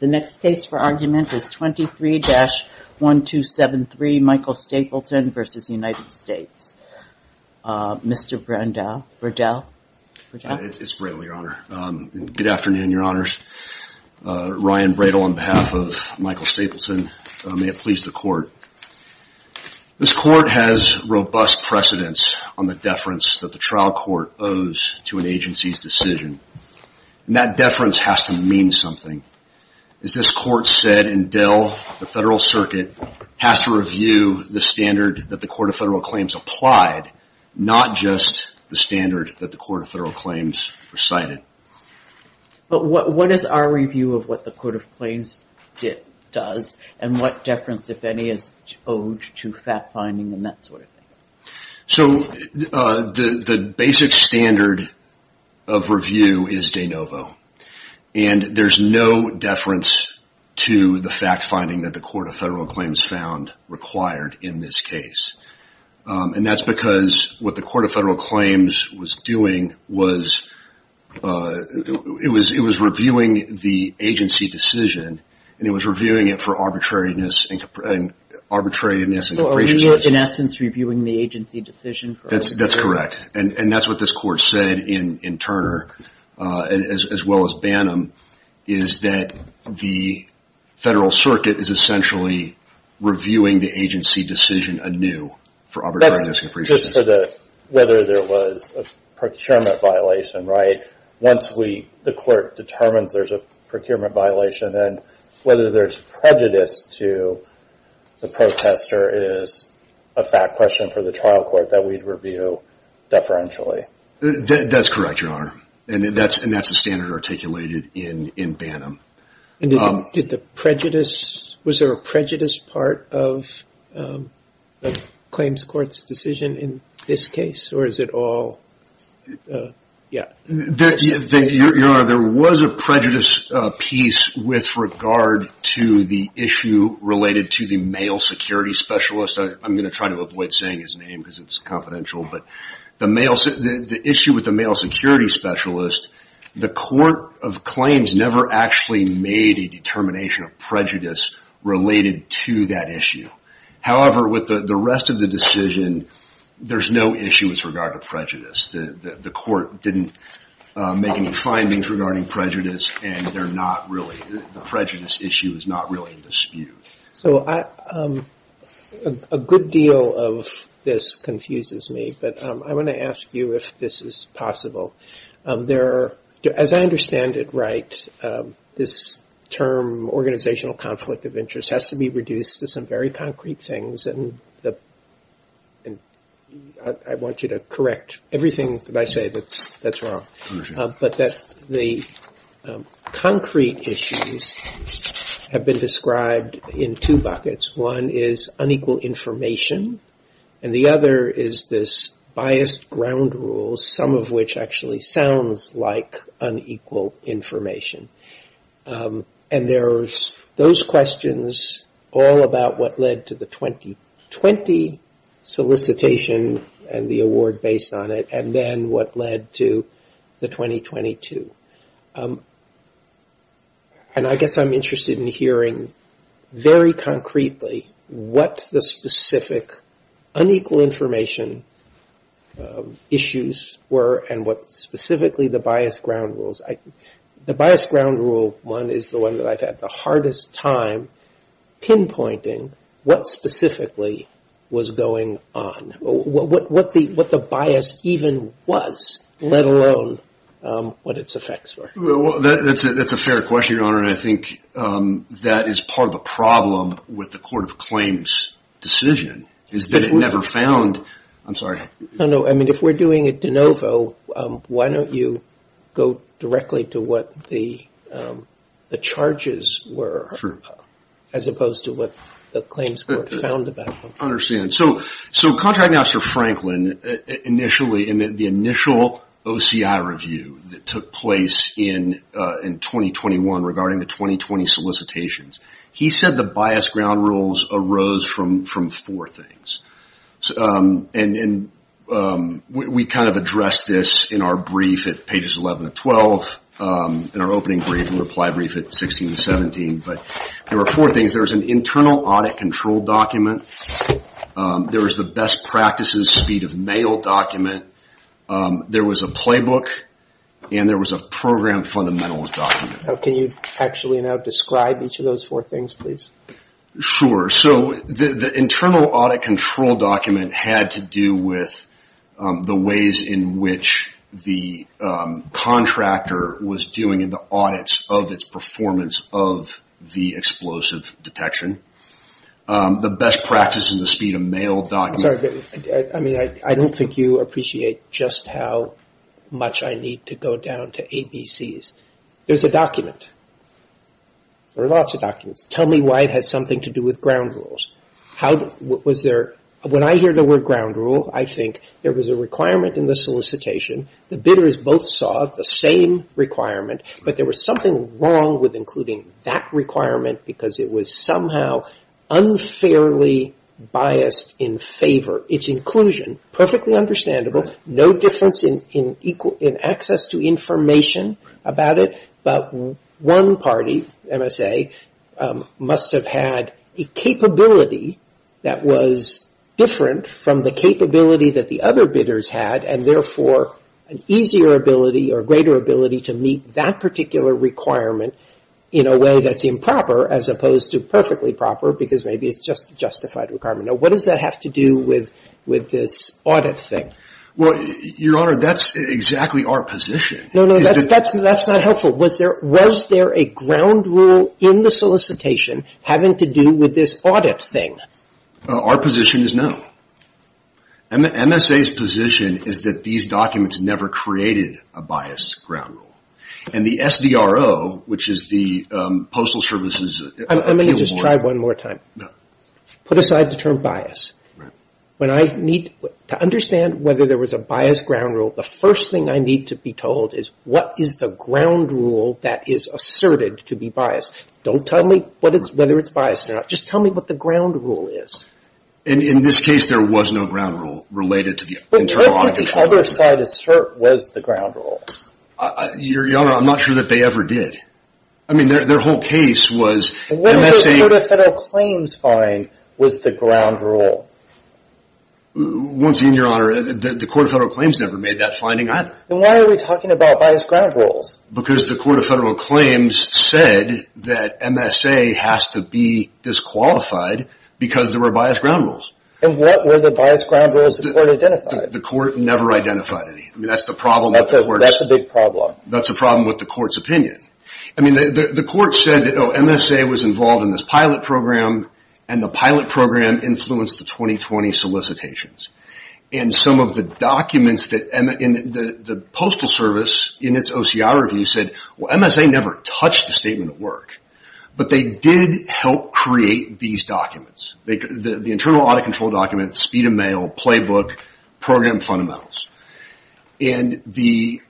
The next case for argument is 23-1273, Michael Stapleton v. United States. Mr. Bradel. It's Bradel, Your Honor. Good afternoon, Your Honors. Ryan Bradel on behalf of Michael Stapleton. May it please the Court. This Court has robust precedence on the deference that the trial court owes to an agency's decision. That deference has to mean something. As this Court said in Dell, the Federal Circuit has to review the standard that the Court of Federal Claims applied, not just the standard that the Court of Federal Claims recited. What is our review of what the Court of Claims does and what deference, if any, is owed to fact-finding and that sort of thing? The basic standard of review is de novo. There's no deference to the fact-finding that the Court of Federal Claims found required in this case. That's because what the Court of Federal Claims was doing was it was reviewing the agency decision and it was reviewing it for arbitrariness and comprehension. So are we, in essence, reviewing the agency decision for arbitrariness and comprehension? That's correct. And that's what this Court said in Turner, as well as Bannum, is that the Federal Circuit is essentially reviewing the agency decision anew for arbitrariness and comprehension. That's just for whether there was a procurement violation, right? Once the Court determines there's a procurement violation and whether there's prejudice to the protester is a fact question for the trial court that we'd review deferentially. That's correct, Your Honor, and that's a standard articulated in Bannum. Was there a prejudice part of the Claims Court's decision in this case, or is it all... Yeah. Your Honor, there was a prejudice piece with regard to the issue related to the male security specialist. I'm going to try to avoid saying his name because it's confidential, but the issue with the male security specialist, the Court of Claims never actually made a determination of prejudice related to that issue. However, with the rest of the decision, there's no issue with regard to prejudice. The Court didn't make any findings regarding prejudice, and the prejudice issue is not really in dispute. A good deal of this confuses me, but I want to ask you if this is possible. As I understand it right, this term, organizational conflict of interest, has to be reduced to some very concrete things, and I want you to correct everything that I say that's wrong, but that the concrete issues have been described in two buckets. One is unequal information, and the other is this biased ground rule, some of which actually sounds like unequal information. There's those questions all about what led to the 2020 solicitation and the award based on it, and then what led to the 2022. I guess I'm interested in hearing very concretely what the specific unequal information issues were and what specifically the biased ground rules. The biased ground rule one is the one that I've had the hardest time pinpointing what specifically was going on. What the bias even was, let alone what its effects were. That's a fair question, Your Honor, and I think that is part of the problem with the Court of Claims decision, is that it never found... I'm sorry. No, no. If we're doing a de novo, why don't you go directly to what the charges were, as opposed to what the Claims Court found about them? I understand. Contract Officer Franklin, initially, in the initial OCI review that took place in 2021 regarding the 2020 solicitations, he said the biased ground rules arose from four things. And we kind of addressed this in our brief at pages 11 and 12, in our opening brief and reply brief at 16 and 17, but there were four things. There was an internal audit control document. There was the best practices speed of mail document. There was a playbook, and there was a program fundamentals document. Can you actually now describe each of those four things, please? Sure. So the internal audit control document had to do with the ways in which the contractor was doing the audits of its performance of the explosive detection. The best practices and the speed of mail document. I don't think you appreciate just how much I need to go down to ABCs. There's a document. There are lots of documents. Tell me why it has something to do with ground rules. When I hear the word ground rule, I think there was a requirement in the solicitation. The bidders both saw the same requirement, but there was something wrong with including that requirement because it was somehow unfairly biased in favor. Its inclusion, perfectly understandable, no difference in access to information about it, but one party, MSA, must have had a capability that was different from the capability that the other bidders had and therefore an easier ability or greater ability to meet that particular requirement in a way that's improper as opposed to perfectly proper because maybe it's just a justified requirement. Now, what does that have to do with this audit thing? Well, Your Honor, that's exactly our position. No, no, that's not helpful. Was there a ground rule in the solicitation having to do with this audit thing? Our position is no. MSA's position is that these documents never created a biased ground rule. And the SDRO, which is the Postal Service's... Let me just try one more time. Put aside the term bias. To understand whether there was a biased ground rule, the first thing I need to be told is, what is the ground rule that is asserted to be biased? Don't tell me whether it's biased or not. Just tell me what the ground rule is. In this case, there was no ground rule related to the internal audit. But what did the other side assert was the ground rule? Your Honor, I'm not sure that they ever did. I mean, their whole case was MSA... was the ground rule. Once again, Your Honor, the Court of Federal Claims never made that finding either. Then why are we talking about biased ground rules? Because the Court of Federal Claims said that MSA has to be disqualified because there were biased ground rules. And what were the biased ground rules the Court identified? The Court never identified any. I mean, that's the problem with the Court's... That's a big problem. That's the problem with the Court's opinion. I mean, the Court said that MSA was involved in this pilot program and the pilot program influenced the 2020 solicitations. And some of the documents in the Postal Service in its OCR review said, well, MSA never touched the statement at work. But they did help create these documents. The internal audit control documents, speed of mail, playbook, program fundamentals. And the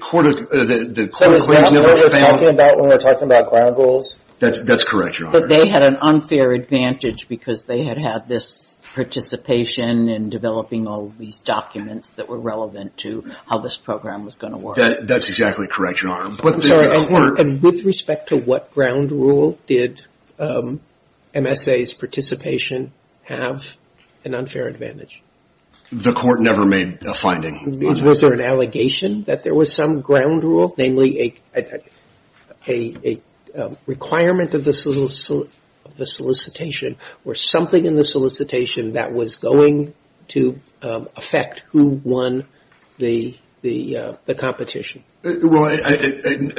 Court of... So is that what we're talking about when we're talking about ground rules? That's correct, Your Honor. But they had an unfair advantage because they had had this participation in developing all these documents that were relevant to how this program was going to work. That's exactly correct, Your Honor. And with respect to what ground rule did MSA's participation have an unfair advantage? The Court never made a finding. Was there an allegation that there was some ground rule, namely a requirement of the solicitation or something in the solicitation that was going to affect who won the competition? Well,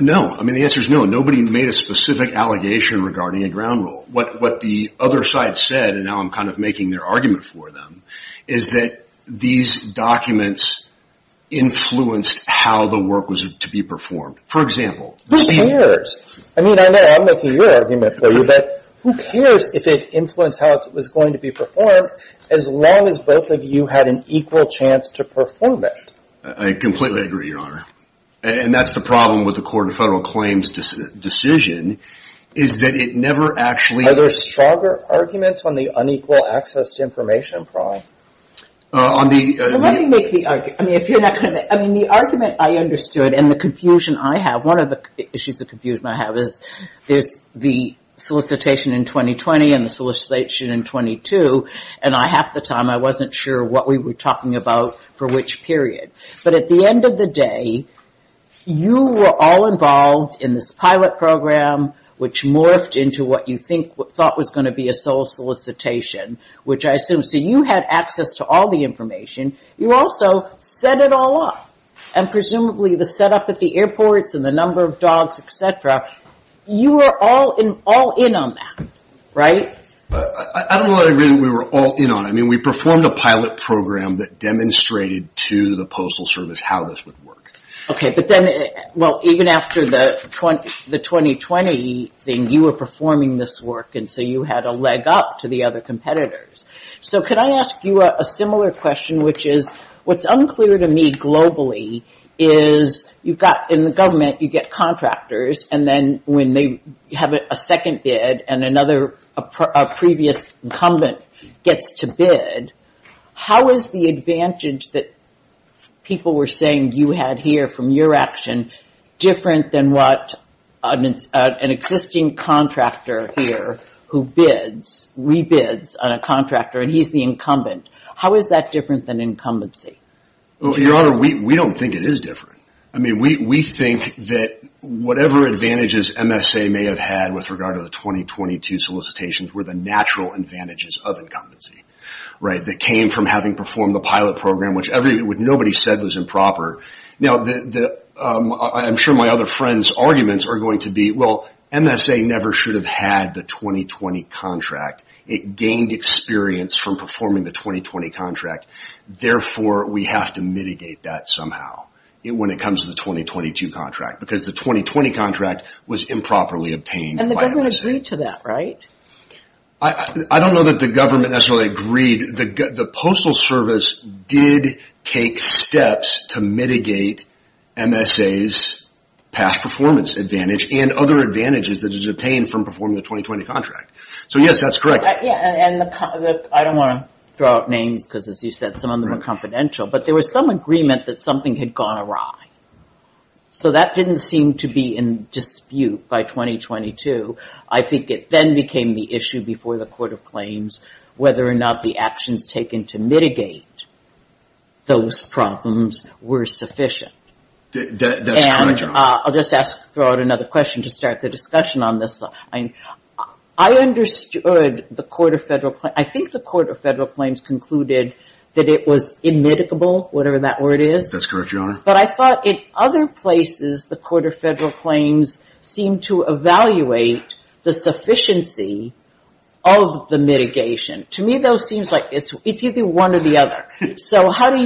no. I mean, the answer is no. Nobody made a specific allegation regarding a ground rule. What the other side said, and now I'm kind of making their argument for them, is that these documents influenced how the work was to be performed. For example... Who cares? I mean, I know I'm making your argument for you, but who cares if it influenced how it was going to be performed as long as both of you had an equal chance to perform it? I completely agree, Your Honor. And that's the problem with the Court of Federal Claims' decision is that it never actually... Are there stronger arguments on the unequal access to information problem? Let me make the argument. I mean, the argument I understood and the confusion I have, one of the issues of confusion I have is the solicitation in 2020 and the solicitation in 22, and half the time I wasn't sure what we were talking about for which period. But at the end of the day, you were all involved in this pilot program which morphed into what you thought was going to be a sole solicitation, which I assume... So you had access to all the information. You also set it all up. And presumably the setup at the airports and the number of dogs, et cetera, you were all in on that, right? I don't know that I agree that we were all in on it. I mean, we performed a pilot program that demonstrated to the Postal Service how this would work. Okay, but then, well, even after the 2020 thing, you were performing this work, and so you had a leg up to the other competitors. So could I ask you a similar question, which is what's unclear to me globally is you've got in the government, you get contractors, and then when they have a second bid and another previous incumbent gets to bid, how is the advantage that people were saying you had here from your action different than what an existing contractor here who bids, rebids on a contractor and he's the incumbent? How is that different than incumbency? Well, Your Honor, we don't think it is different. I mean, we think that whatever advantages MSA may have had with regard to the 2022 solicitations were the natural advantages of incumbency, right, that came from having performed the pilot program, which nobody said was improper. Now, I'm sure my other friends' arguments are going to be, well, MSA never should have had the 2020 contract. It gained experience from performing the 2020 contract. Therefore, we have to mitigate that somehow. When it comes to the 2022 contract, because the 2020 contract was improperly obtained by MSA. And the government agreed to that, right? I don't know that the government necessarily agreed. The Postal Service did take steps to mitigate MSA's past performance advantage and other advantages that it obtained from performing the 2020 contract. So, yes, that's correct. I don't want to throw out names because, as you said, some of them are confidential. But there was some agreement that something had gone awry. So that didn't seem to be in dispute by 2022. I think it then became the issue before the Court of Claims whether or not the actions taken to mitigate those problems were sufficient. And I'll just throw out another question to start the discussion on this. I understood the Court of Federal Claims. concluded that it was immedicable, whatever that word is. That's correct, Your Honor. But I thought in other places the Court of Federal Claims seemed to evaluate the sufficiency of the mitigation. To me, though, it seems like it's either one or the other. So how do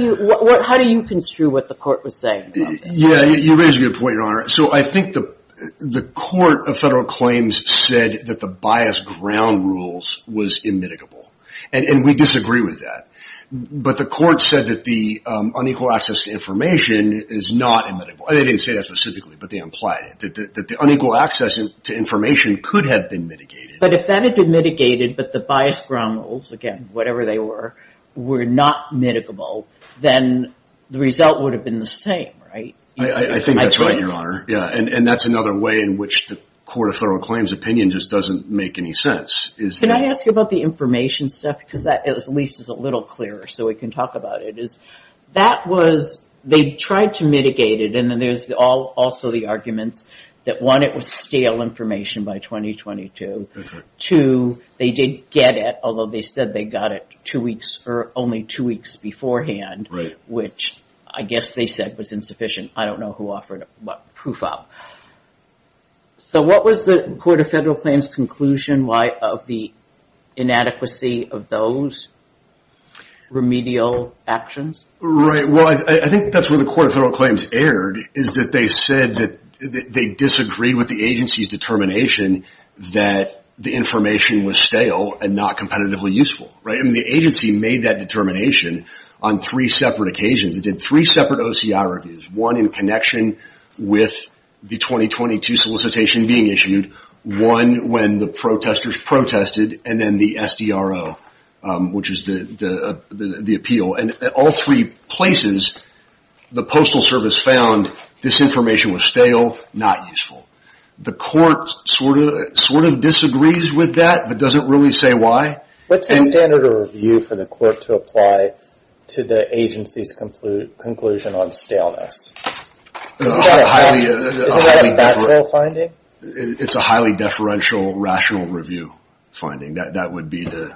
you construe what the Court was saying? Yeah, you raise a good point, Your Honor. So I think the Court of Federal Claims said that the biased ground rules was I disagree with that. But the Court said that the unequal access to information is not immutable. They didn't say that specifically, but they implied it, that the unequal access to information could have been mitigated. But if that had been mitigated, but the biased ground rules, again, whatever they were, were not mitigable, then the result would have been the same, right? I think that's right, Your Honor. Yeah, and that's another way in which the Court of Federal Claims' opinion just doesn't make any sense. Can I ask you about the information stuff? Because that, at least, is a little clearer so we can talk about it. That was they tried to mitigate it, and then there's also the arguments that, one, it was stale information by 2022. Two, they didn't get it, although they said they got it two weeks or only two weeks beforehand, which I guess they said was insufficient. I don't know who offered what proof up. So what was the Court of Federal Claims' conclusion of the inadequacy of those remedial actions? Right. Well, I think that's where the Court of Federal Claims erred, is that they said that they disagreed with the agency's determination that the information was stale and not competitively useful, right? And the agency made that determination on three separate occasions. It did three separate OCI reviews, one in connection with the 2022 solicitation being issued, one when the protesters protested, and then the SDRO, which is the appeal. And at all three places, the Postal Service found this information was stale, not useful. The Court sort of disagrees with that but doesn't really say why. What's the standard of review for the Court to apply to the agency's conclusion on staleness? Isn't that a bachelor finding? It's a highly deferential, rational review finding. That would be the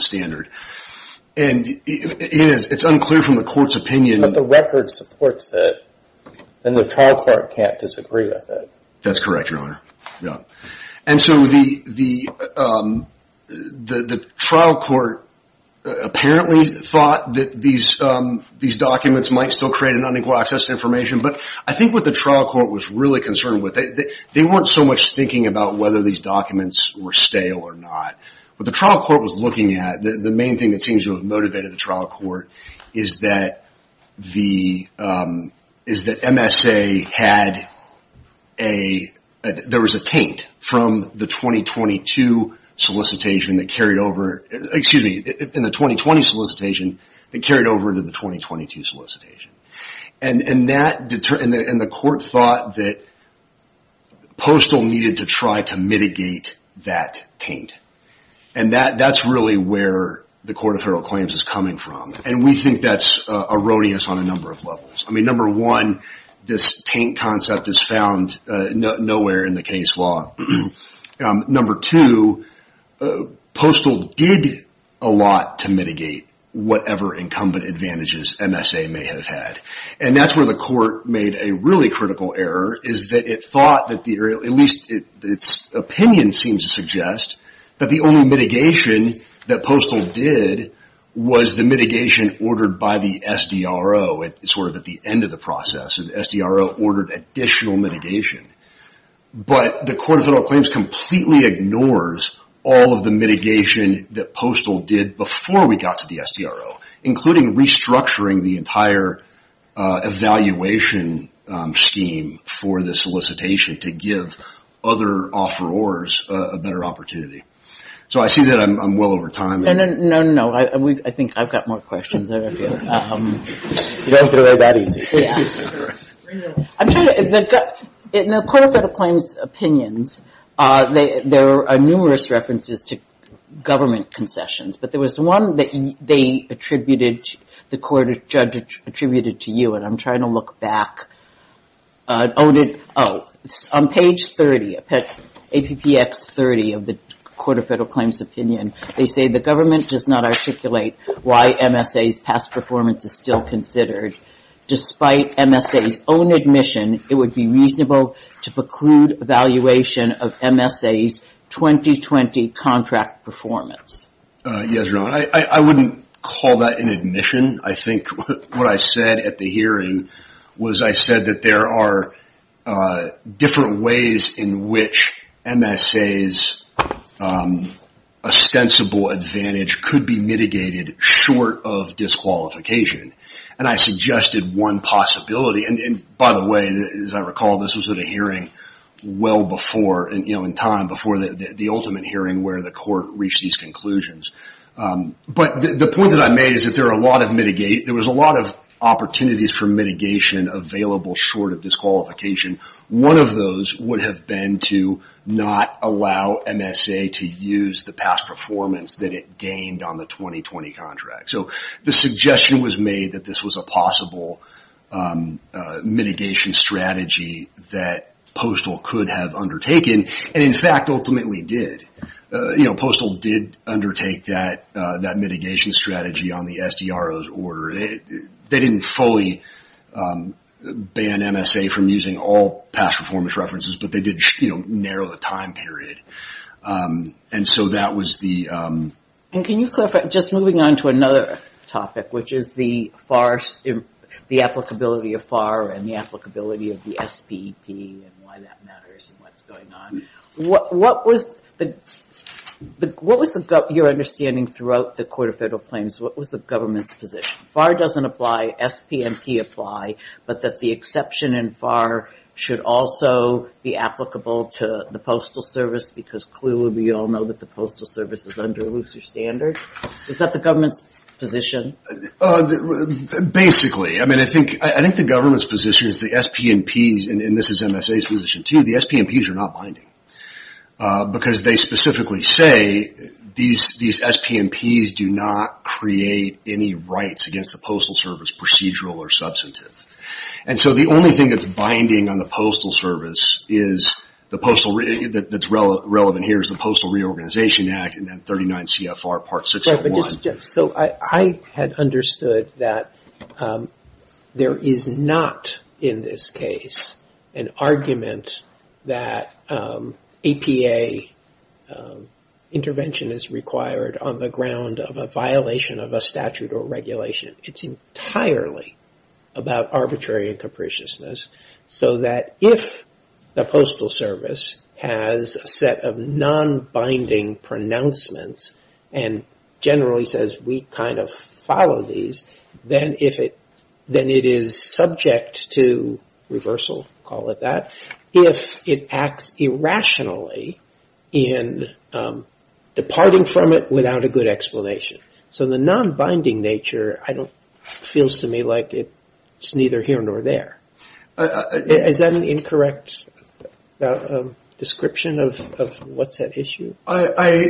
standard. And it's unclear from the Court's opinion. But the record supports it, and the trial court can't disagree with it. That's correct, Your Honor. And so the trial court apparently thought that these documents might still create an unequal access to information. But I think what the trial court was really concerned with, they weren't so much thinking about whether these documents were stale or not. What the trial court was looking at, the main thing that seems to have motivated the trial court, is that MSA had a, there was a taint from the 2022 solicitation that carried over, excuse me, in the 2020 solicitation, that carried over into the 2022 solicitation. And the Court thought that Postal needed to try to mitigate that taint. And that's really where the Court of Federal Claims is coming from. And we think that's erroneous on a number of levels. I mean, number one, this taint concept is found nowhere in the case law. Number two, Postal did a lot to mitigate whatever incumbent advantages MSA may have had. And that's where the Court made a really critical error, is that it thought, at least its opinion seems to suggest, that the only mitigation that Postal did was the mitigation ordered by the end of the process. The SDRO ordered additional mitigation. But the Court of Federal Claims completely ignores all of the mitigation that Postal did before we got to the SDRO, including restructuring the entire evaluation scheme for the solicitation to give other offerors a better opportunity. So I see that I'm well over time. No, no, no. I think I've got more questions. You don't have to go that easy. In the Court of Federal Claims opinions, there are numerous references to government concessions. But there was one that they attributed, the Court of Judges attributed to you. And I'm trying to look back. On page 30, APPX 30 of the Court of Federal Claims opinion, they say the government does not articulate why MSA's past performance is still considered. Despite MSA's own admission, it would be reasonable to preclude evaluation of MSA's 2020 contract performance. Yes, Your Honor. I wouldn't call that an admission. I think what I said at the hearing was I said that there are different ways in which MSA's ostensible advantage could be mitigated short of disqualification. And I suggested one possibility. And by the way, as I recall, this was at a hearing well before, you know, in time before the ultimate hearing where the court reached these conclusions. But the point that I made is that there are a lot of, there was a lot of opportunities for mitigation available short of disqualification. One of those would have been to not allow MSA to use the past performance that it gained on the 2020 contract. So the suggestion was made that this was a possible mitigation strategy that Postol could have undertaken. And in fact, ultimately did. You know, Postol did undertake that mitigation strategy on the SDRO's order. They didn't fully ban MSA from using all past performance references, but they did, you know, narrow the time period. And so that was the. And can you clarify, just moving on to another topic, which is the FAR, the applicability of FAR and the applicability of the SPP and why that matters and what's going on. What was the, what was your understanding throughout the court of federal claims? What was the government's position? FAR doesn't apply, SPNP apply, but that the exception in FAR should also be applicable to the Postal Service, because clearly we all know that the Postal Service is under looser standards. Is that the government's position? Basically. I mean, I think, I think the government's position is the SPNPs and this is MSA's position too. The SPNPs are not binding because they specifically say these, these SPNPs do not create any rights against the Postal Service procedural or substantive. And so the only thing that's binding on the Postal Service is the Postal that's relevant here is the Postal Reorganization Act and then 39 CFR Part 6.1. So I had understood that there is not in this case an argument that APA intervention is required on the ground of a violation of a statute or regulation. It's entirely about arbitrary and capriciousness so that if the Postal Service has a set of non-binding pronouncements and generally says we kind of follow these, then if it, then it is subject to reversal, call it that. If it acts irrationally in departing from it without a good explanation. So the non-binding nature, I don't, feels to me like it's neither here nor there. Is that an incorrect description of what's at issue? I,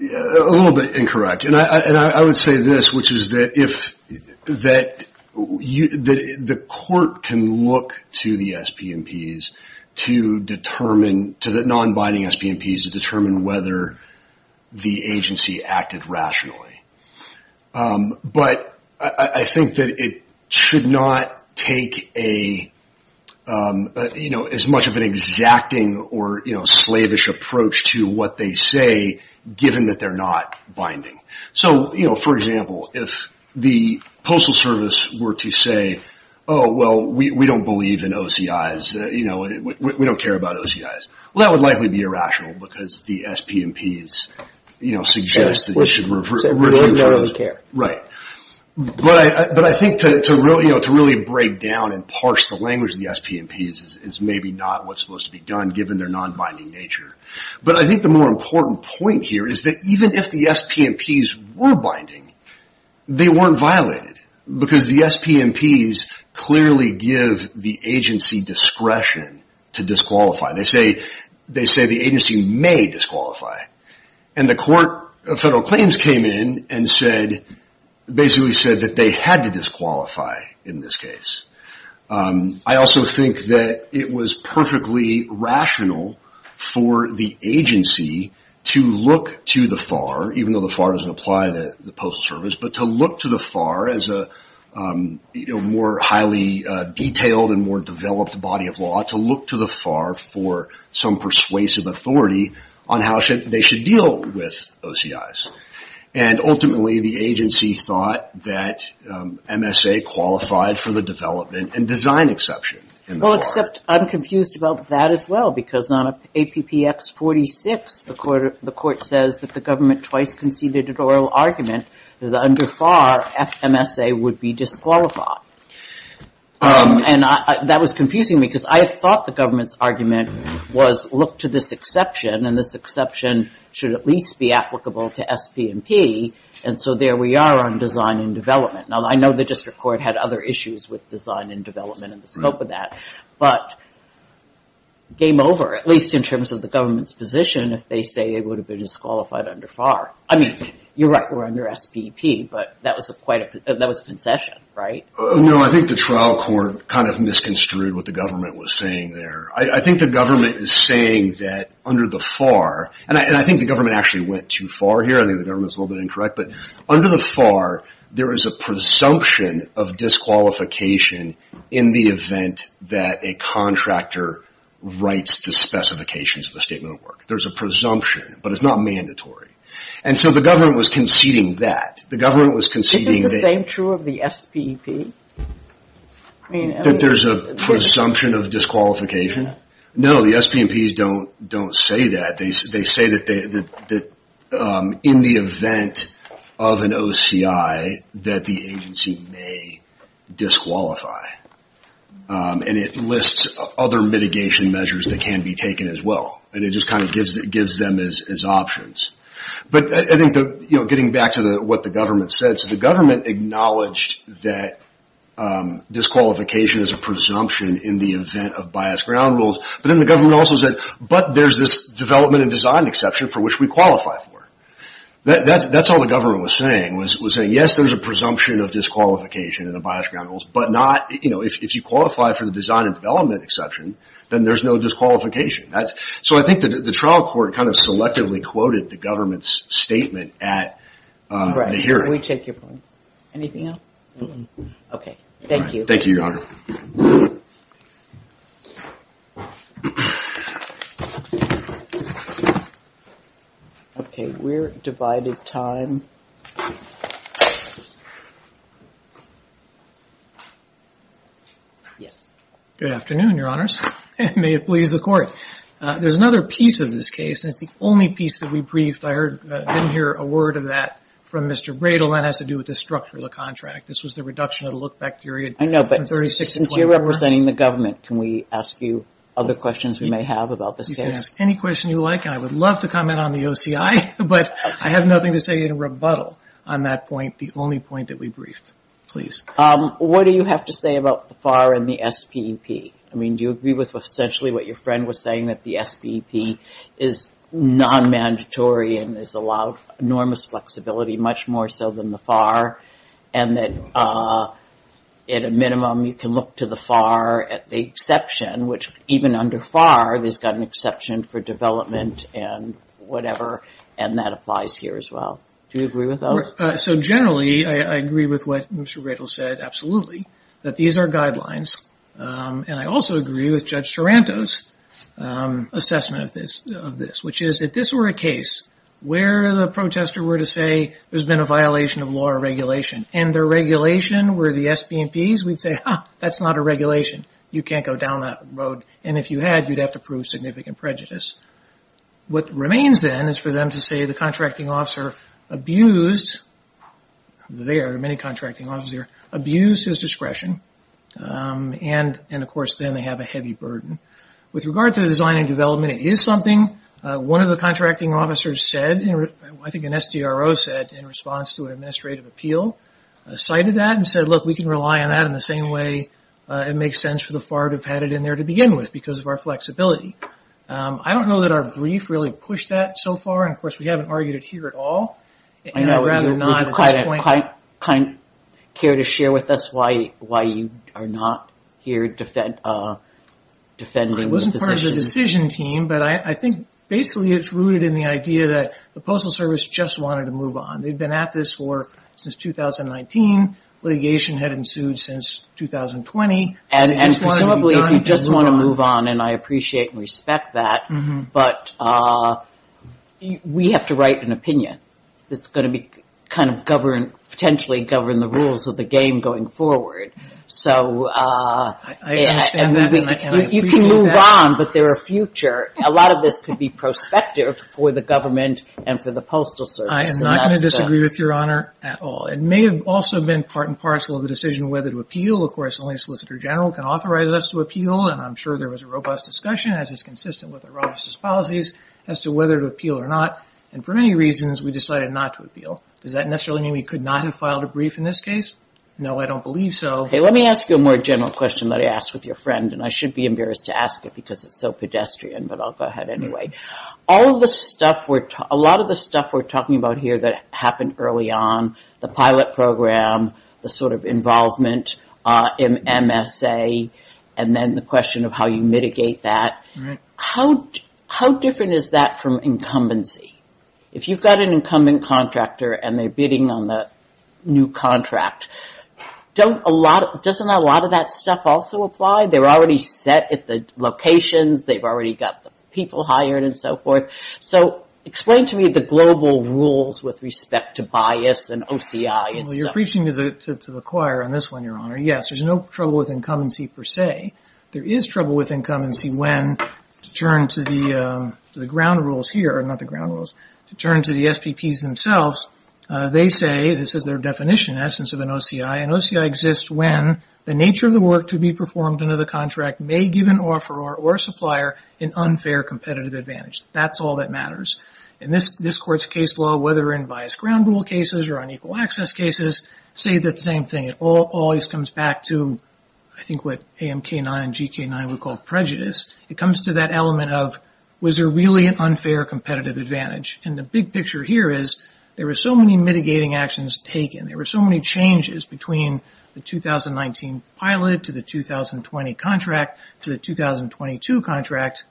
a little bit incorrect and I, and I would say this, which is that if that you, the court can look to the SPMPs to determine, to the non-binding SPMPs to determine whether the agency acted rationally. But I think that it should not take a, you know, as much of an exacting or slavish approach to what they say given that they're not binding. So, you know, for example, if the Postal Service were to say, oh, well, we don't believe in OCI's, you know, we don't care about OCI's. Well, that would likely be irrational because the SPMPs, you know, suggest that you should reverse. Right. But I, but I think to, to really, you know, to really break down and parse the language of the SPMPs is, is maybe not what's supposed to be done given their non-binding nature. But I think the more important point here is that even if the SPMPs were binding, they weren't violated because the SPMPs clearly give the agency discretion to disqualify. They say, they say the agency may disqualify. And the court of federal claims came in and said, basically said that they had to disqualify in this case. I also think that it was perfectly rational for the agency to look to the FAR, even though the FAR doesn't apply to the Postal Service, but to look to the FAR as a, you know, more highly detailed and more developed body of law to look to the FAR for some persuasive authority on how they should deal with OCI's. And ultimately the agency thought that MSA qualified for the development and design exception. Well, except I'm confused about that as well because on APPX 46, the court says that the government twice conceded an oral argument that under FAR, FMSA would be disqualified. And that was confusing me because I thought the government's argument was look to this exception and this exception should at least be applicable to SPMP. And so there we are on design and development. Now I know the district court had other issues with design and development and the scope of that, but game over, at least in terms of the government's position, if they say it would have been disqualified under FAR, I mean, you're right. We're under SPP, but that was quite a, that was concession, right? No, I think the trial court kind of misconstrued what the government was saying there. I think the government is saying that under the FAR and I, and I think the government actually went too far here. I think the government's a little bit incorrect, but under the FAR there is a presumption of disqualification in the event that a contractor writes the specifications of the statement of work. There's a presumption, but it's not mandatory. And so the government was conceding that. The government was conceding that. Isn't the same true of the SPP? That there's a presumption of disqualification? No, the SPMPs don't say that. They say that in the event of an OCI that the agency may disqualify. And it lists other mitigation measures that can be taken as well. And it just kind of gives them as options. But I think that, you know, getting back to what the government said, so the government acknowledged that disqualification is a presumption in the event of biased ground rules. But then the government also said, but there's this development and design exception for which we qualify for. That's all the government was saying, was saying, yes, there's a presumption of disqualification in the biased ground rules, but not, you know, if you qualify for the design and development exception, then there's no disqualification. So I think that the trial court kind of selectively quoted the government's statement at the hearing. Right. We take your point. Anything else? No. Okay. Thank you. Thank you, Your Honor. Okay, we're divided time. Yes. Good afternoon, Your Honors. May it please the Court. There's another piece of this case, and it's the only piece that we briefed. I heard, didn't hear a word of that from Mr. Bradel, and that has to do with the structure of the contract. This was the reduction of the look-back period. I know, but since you're representing the government, can we ask you other questions we may have about this case? You can ask any question you like, and I would love to comment on the OCI, but I have nothing to say in rebuttal on that point, the only point that we briefed. Please. What do you have to say about the FAR and the SPP? I mean, do you agree with essentially what your friend was saying, that the SPP is non-mandatory and has allowed enormous flexibility, much more so than the FAR, and that at a minimum you can look to the FAR at the exception, which even under FAR, there's got an exception for development and whatever, and that applies here as well. Do you agree with that? So generally, I agree with what Mr. Radel said, absolutely, that these are guidelines, and I also agree with Judge Taranto's assessment of this, which is if this were a case where the protester were to say there's been a violation of law or regulation, and the regulation were the SPP's, we'd say, huh, that's not a regulation. You can't go down that road, and if you had, you'd have to prove significant prejudice. What remains then is for them to say the contracting officer abused their, many contracting officers, abused his discretion, and, of course, then they have a heavy burden. With regard to design and development, it is something one of the contracting officers said, I think an SDRO said in response to an administrative appeal, cited that and said, look, we can rely on that in the same way it makes sense for the FAR to have had it in there to begin with because of our flexibility. I don't know that our brief really pushed that so far, and, of course, we haven't argued it here at all, and I'd rather not at this point. I know you quite care to share with us why you are not here defending the position. I wasn't part of the decision team, but I think basically it's rooted in the idea that the Postal Service just wanted to move on. They've been at this for, since 2019. Litigation had ensued since 2020. And presumably, if you just want to move on, and I appreciate and respect that, but, we have to write an opinion that's going to be kind of governed, potentially govern the rules of the game going forward. So, I understand that. You can move on, but there are future. A lot of this could be prospective for the government and for the Postal Service. I am not going to disagree with Your Honor at all. It may have also been part and parcel of the decision whether to appeal. Of course, only a Solicitor General can authorize us to appeal, and I'm sure there was a robust discussion, as is consistent with the robustest policies, as to whether to appeal or not. And for many reasons, we decided not to appeal. Does that necessarily mean we could not have filed a brief in this case? No, I don't believe so. Hey, let me ask you a more general question that I asked with your friend, and I should be embarrassed to ask it because it's so pedestrian, but I'll go ahead anyway. All of this stuff, a lot of the stuff we're talking about here that happened early on, the pilot program, the sort of involvement in MSA, and then the question of how you mitigate that, how different is that from incumbency? If you've got an incumbent contractor and they're bidding on the new contract, doesn't a lot of that stuff also apply? They're already set at the locations. They've already got the people hired and so forth. So explain to me the global rules with respect to bias and OCI. Well, you're preaching to the choir on this one, Your Honor. Yes, there's no trouble with incumbency per se. There is trouble with incumbency when, to turn to the ground rules here, not the ground rules, to turn to the SPPs themselves, they say, this is their definition, essence of an OCI, an OCI exists when the nature of the work to be performed under the contract may give an offeror or supplier an unfair competitive advantage. That's all that matters. In this court's case law, whether in bias ground rule cases or unequal access cases, say that the same thing. It always comes back to, I think what AMK9 and GK9 would call prejudice. It comes to that element of, was there really an unfair competitive advantage? And the big picture here is, there were so many mitigating actions taken. There were so many changes between the 2019 pilot to the 2020 contract to the 2022 contract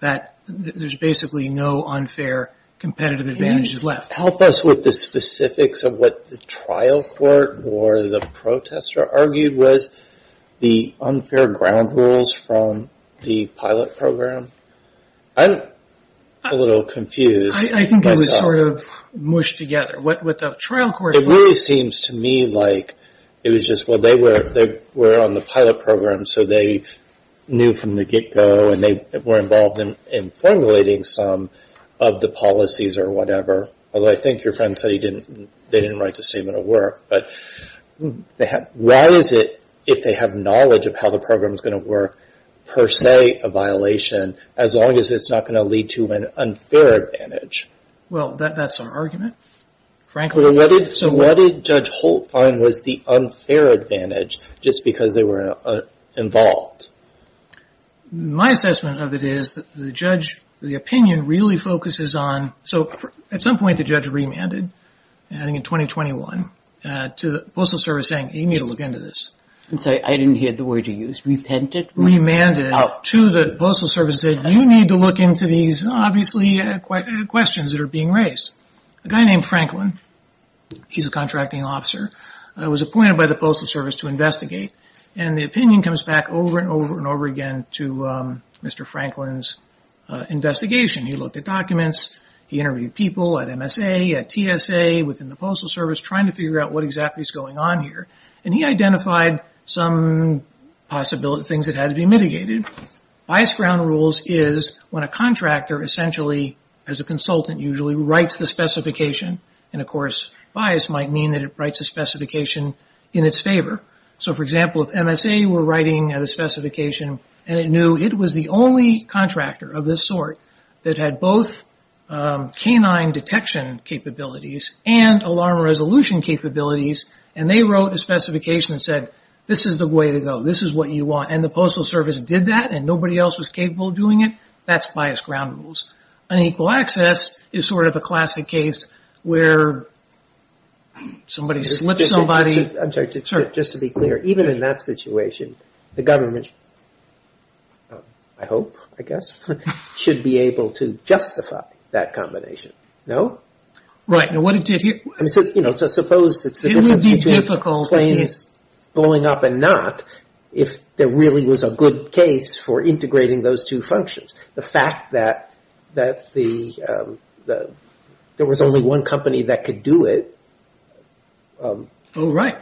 that there's basically no unfair competitive advantages left. Help us with the specifics of what the trial court or the protester argued was the unfair ground rules from the pilot program. I'm a little confused. I think it was sort of mushed together. What the trial court argued. It really seems to me like it was just, well, they were on the pilot program, so they knew from the get-go and they were involved in formulating some of the policies or whatever. Although I think your friend said they didn't write the statement of work. But why is it, if they have knowledge of how the program is going to work, per se a violation, as long as it's not going to lead to an unfair advantage? Well, that's our argument, frankly. So what did Judge Holt find was the unfair advantage, just because they were involved? My assessment of it is that the judge, the opinion really focuses on, so at some point the judge remanded, I think in 2021, to the Postal Service saying you need to look into this. I'm sorry, I didn't hear the word you used. Remanded to the Postal Service and said you need to look into these, obviously, questions that are being raised. A guy named Franklin, he's a contracting officer, was appointed by the Postal Service to investigate. And the opinion comes back over and over and over again to Mr. Franklin's investigation. He looked at documents, he interviewed people at MSA, at TSA, within the Postal Service, trying to figure out what exactly is going on here. And he identified some things that had to be mitigated. Bias ground rules is when a contractor, essentially as a consultant usually, writes the specification, and of course bias might mean that it writes the specification in its favor. So, for example, if MSA were writing a specification and it knew it was the only contractor of this sort that had both canine detection capabilities and alarm resolution capabilities, and they wrote a specification and said, this is the way to go, this is what you want, and the Postal Service did that and nobody else was capable of doing it, that's bias ground rules. Unequal access is sort of a classic case where somebody slips somebody... Just to be clear, even in that situation, the government, I hope, I guess, should be able to justify that combination, no? Right. So suppose it's the difference between planes going up and not, if there really was a good case for integrating those two functions. The fact that there was only one company that could do it... Oh, right.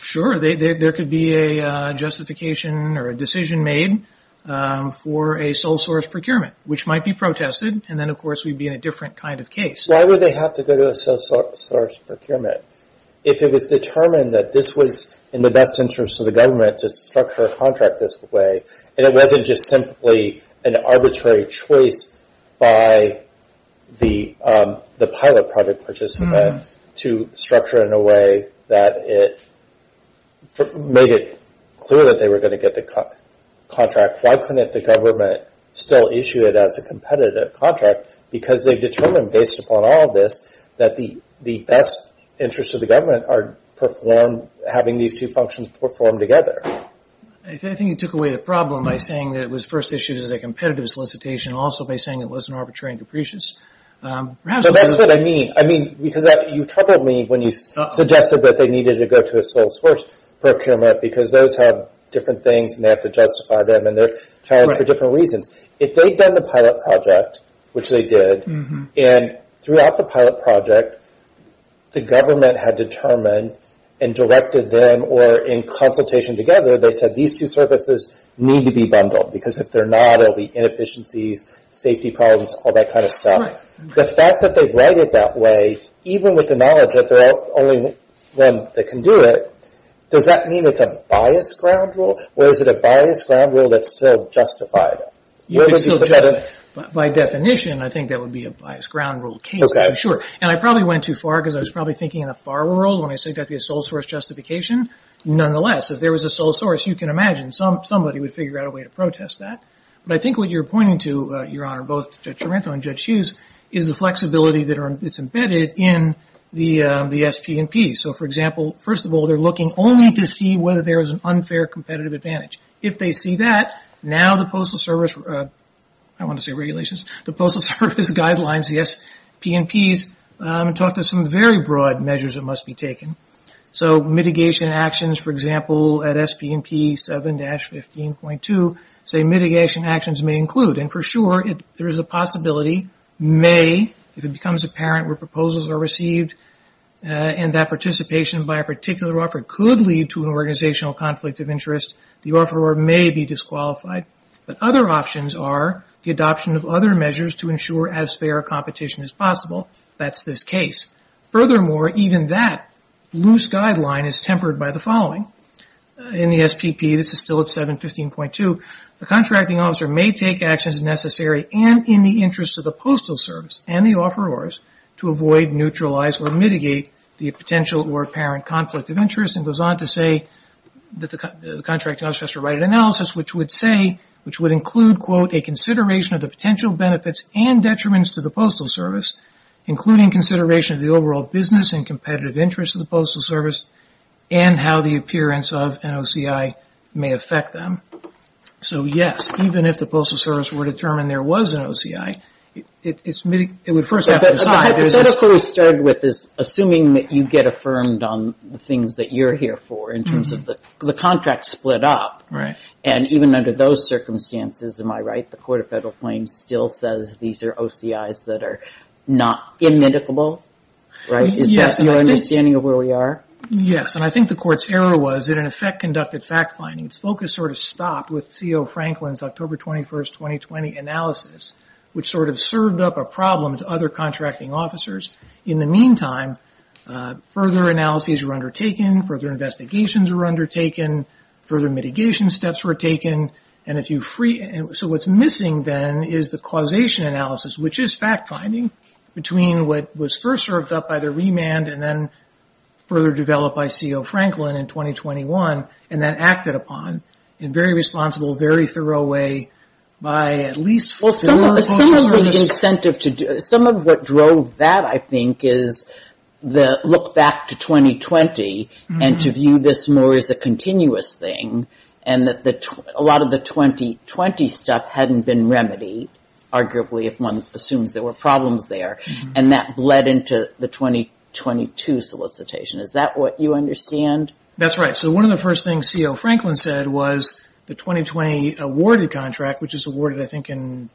Sure, there could be a justification or a decision made for a sole source procurement, which might be protested, and then of course we'd be in a different kind of case. Why would they have to go to a sole source procurement if it was determined that this was in the best interest of the government to structure a contract this way, and it wasn't just simply an arbitrary choice by the pilot project participant to structure it in a way that it made it clear that they were going to get the contract? Why couldn't the government still issue it as a competitive contract? Because they've determined, based upon all of this, that the best interests of the government are having these two functions performed together. I think you took away the problem by saying that it was first issued as a competitive solicitation, also by saying it wasn't arbitrary and capricious. That's what I mean. You troubled me when you suggested that they needed to go to a sole source procurement because those have different things, and they have to justify them, and they're challenged for different reasons. If they'd done the pilot project, which they did, and throughout the pilot project, the government had determined and directed them, or in consultation together, they said these two services need to be bundled, because if they're not, there'll be inefficiencies, safety problems, all that kind of stuff. The fact that they write it that way, even with the knowledge that they're the only one that can do it, does that mean it's a biased ground rule, or is it a biased ground rule that's still justified? By definition, I think that would be a biased ground rule case, for sure. I probably went too far, because I was probably thinking in a far world when I said there'd be a sole source justification. Nonetheless, if there was a sole source, you can imagine somebody would figure out a way to protest that. I think what you're pointing to, Your Honor, both Judge Tremento and Judge Hughes, is the flexibility that's embedded in the SP&Ps. For example, first of all, they're looking only to see whether there is an unfair competitive advantage. If they see that, now the Postal Service, I wanted to say regulations, the Postal Service guidelines, the SP&Ps, talk to some very broad measures that must be taken. Mitigation actions, for example, at SP&P 7-15.2, say mitigation actions may include, and for sure there is a possibility, may, if it becomes apparent where proposals are received and that participation by a particular offer could lead to an organizational conflict of interest, the offeror may be disqualified. But other options are the adoption of other measures to ensure as fair a competition as possible. Furthermore, even that loose guideline is tempered by the following. In the SP&P, this is still at 7-15.2, the contracting officer may take actions necessary and in the interest of the Postal Service and the offerors to avoid, neutralize, or mitigate the potential or apparent conflict of interest. It goes on to say that the contracting officer has to write an analysis which would include, quote, a consideration of the potential benefits and detriments to the Postal Service, including consideration of the overall business and competitive interest of the Postal Service and how the appearance of an OCI may affect them. So yes, even if the Postal Service were to determine there was an OCI, it would first have to decide. But the hypothetical we started with is assuming that you get affirmed on the things that you're here for in terms of the contract split up. Right. And even under those circumstances, am I right, the Court of Federal Claims still says these are OCIs that are not immedicable? Is that your understanding of where we are? Yes. And I think the Court's error was it in effect conducted fact-finding. Its focus sort of stopped with C.O. Franklin's October 21, 2020 analysis, which sort of served up a problem to other contracting officers. In the meantime, further analyses were undertaken, further investigations were undertaken, further mitigation steps were taken. So what's missing then is the causation analysis, which is fact-finding between what was first served up by the remand and then further developed by C.O. Franklin in 2021 and then acted upon in a very responsible, very thorough way by at least four Postal Service. Well, some of the incentive to do – some of what drove that, I think, is the look back to 2020 and to view this more as a continuous thing and that a lot of the 2020 stuff hadn't been remedied, arguably if one assumes there were problems there. And that bled into the 2022 solicitation. Is that what you understand? That's right. So one of the first things C.O. Franklin said was the 2020 awarded contract, which was awarded, I think, in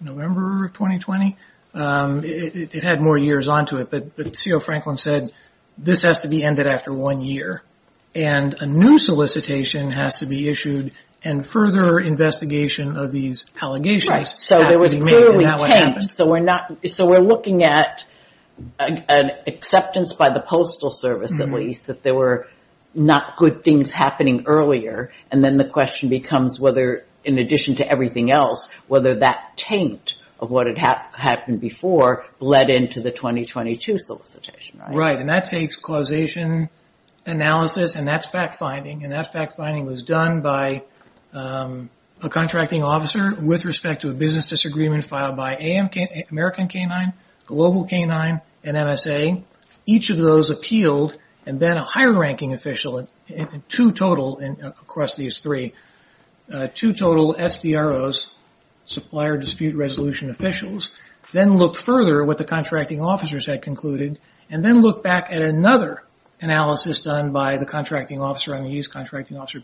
November of 2020, it had more years onto it, but C.O. Franklin said this has to be ended after one year and a new solicitation has to be issued and further investigation of these allegations. Right, so there was clearly taint. So we're looking at an acceptance by the Postal Service, at least, that there were not good things happening earlier and then the question becomes whether, in addition to everything else, whether that taint of what had happened before bled into the 2022 solicitation. The finding was done by a contracting officer with respect to a business disagreement filed by American K-9, Global K-9, and MSA. Each of those appealed and then a higher ranking official, two total across these three, two total SDROs, Supplier Dispute Resolution officials, then looked further at what the contracting officers had concluded and then looked back at another analysis done by the contracting officer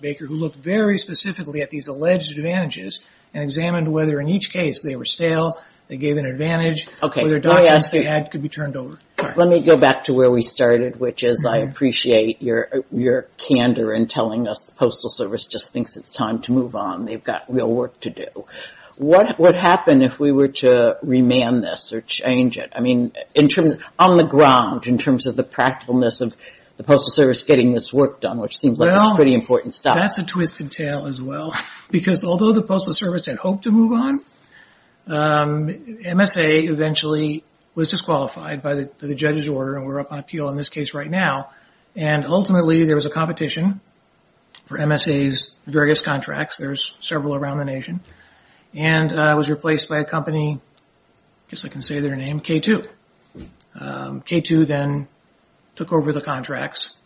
Baker who looked very specifically at these alleged advantages and examined whether in each case they were stale, they gave an advantage, whether documents they had could be turned over. Let me go back to where we started, which is I appreciate your candor in telling us the Postal Service just thinks it's time to move on. They've got real work to do. What would happen if we were to remand this or change it? I mean, on the ground, in terms of the practicalness of the Postal Service getting this work done, which seems like it's pretty important stuff. Well, that's a twisted tale as well because although the Postal Service had hoped to move on, MSA eventually was disqualified by the judge's order and we're up on appeal in this case right now. And ultimately there was a competition for MSA's various contracts. There's several around the nation. And it was replaced by a company, I guess I can say their name, K2. K2 then took over the contracts.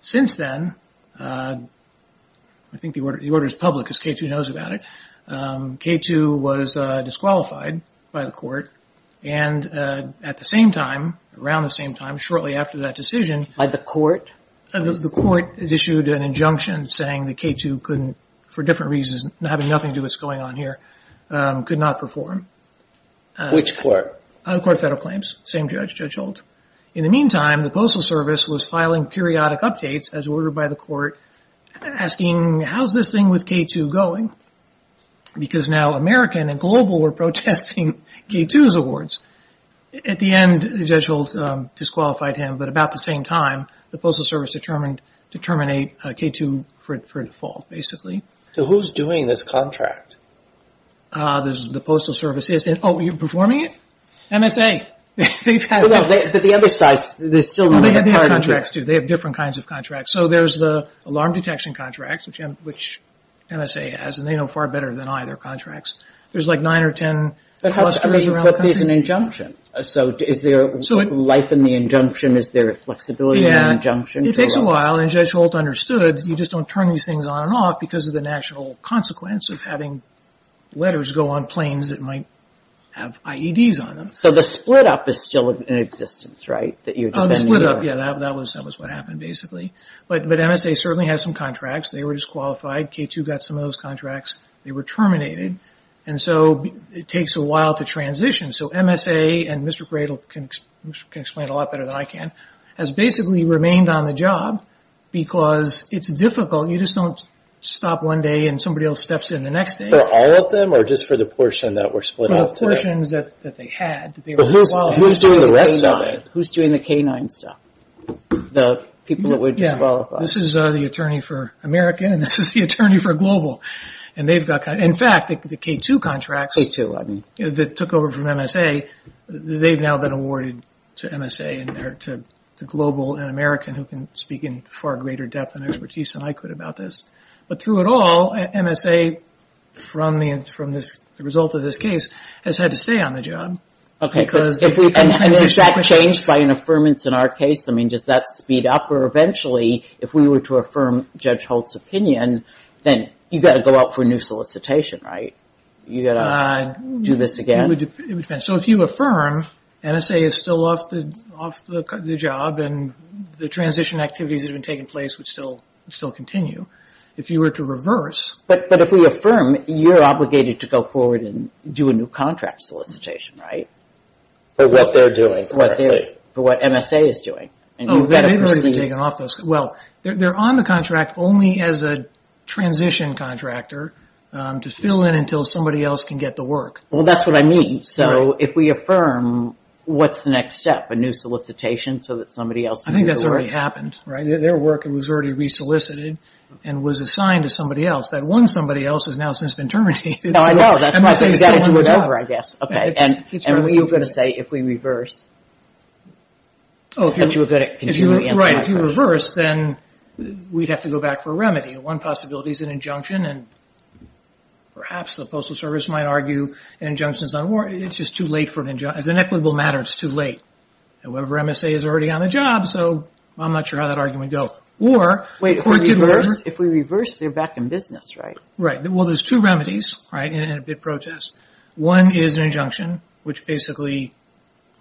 Since then, I think the order is public because K2 knows about it, K2 was disqualified by the court and at the same time, around the same time, shortly after that decision... By the court? The court issued an injunction saying that K2 couldn't, for different reasons, having nothing to do with what's going on here, could not perform. Which court? The court of federal claims, same judge, Judge Holt. In the meantime, the Postal Service was filing periodic updates as ordered by the court, asking, how's this thing with K2 going? Because now American and global were protesting K2's awards. At the end, Judge Holt disqualified him, but about the same time, the Postal Service determined to terminate K2 for default, basically. So who's doing this contract? The Postal Service is. Oh, you're performing it? MSA. But the other sides, they're still running the contract. They have different kinds of contracts. So there's the alarm detection contracts, which MSA has, and they know far better than I their contracts. There's like 9 or 10 clusters around the country. But there's an injunction. So is there life in the injunction? Is there flexibility in the injunction? It takes a while, and Judge Holt understood, you just don't turn these things on and off because of the national consequence of having letters go on planes that might have IEDs on them. So the split-up is still in existence, right? The split-up, yeah, that was what happened, basically. But MSA certainly has some contracts. They were disqualified. K2 got some of those contracts. They were terminated. And so it takes a while to transition. So MSA, and Mr. Cradle can explain it a lot better than I can, has basically remained on the job because it's difficult. You just don't stop one day and somebody else steps in the next day. For all of them or just for the portion that were split up today? For the portions that they had. Who's doing the rest of it? Who's doing the K9 stuff, the people that were disqualified? Yeah, this is the attorney for American, and this is the attorney for global. And they've got, in fact, the K2 contracts that took over from MSA, they've now been awarded to MSA and to global and American who can speak in far greater depth and expertise than I could about this. But through it all, MSA, from the result of this case, has had to stay on the job. Okay, and is that changed by an affirmance in our case? I mean, does that speed up? Or eventually, if we were to affirm Judge Holt's opinion, then you've got to go out for a new solicitation, right? You've got to do this again? It would depend. So if you affirm MSA is still off the job and the transition activities that have been taking place would still continue. If you were to reverse. But if we affirm, you're obligated to go forward and do a new contract solicitation, right? For what they're doing. For what MSA is doing. Oh, they've already been taken off those. Well, they're on the contract only as a transition contractor to fill in until somebody else can get the work. Well, that's what I mean. So if we affirm, what's the next step? A new solicitation so that somebody else can get the work? I think that's already happened, right? Their work was already re-solicited and was assigned to somebody else. That one somebody else has now since been terminated. No, I know. That's why I said you've got to do it over, I guess. Okay, and what are you going to say if we reverse? Oh, if you reverse, then we'd have to go back for a remedy. One possibility is an injunction, and perhaps the Postal Service might argue an injunction is not warranted. It's just too late for an injunction. As an equitable matter, it's too late. However, MSA is already on the job, so I'm not sure how that argument would go. Wait, if we reverse, they're back in business, right? Right. Well, there's two remedies in a bid protest. One is an injunction, which basically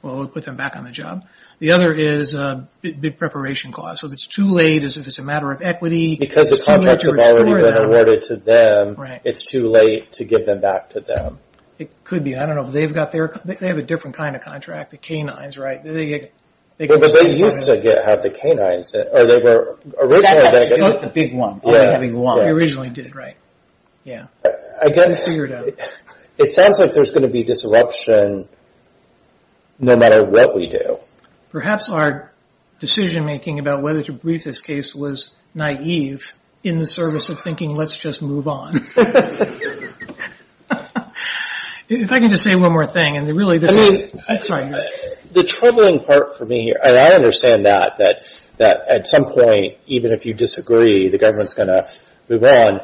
would put them back on the job. The other is a bid preparation clause. If it's too late, if it's a matter of equity. Because the contracts have already been awarded to them, it's too late to give them back to them. It could be. I don't know if they've got their – they have a different kind of contract, the canines, right? But they used to have the canines, or they were originally – That's a big one, only having one. They originally did, right? Yeah. It's been figured out. It sounds like there's going to be disruption no matter what we do. Perhaps our decision-making about whether to brief this case was naive in the service of thinking let's just move on. If I can just say one more thing, and really – The troubling part for me, and I understand that, that at some point, even if you disagree, the government's going to move on.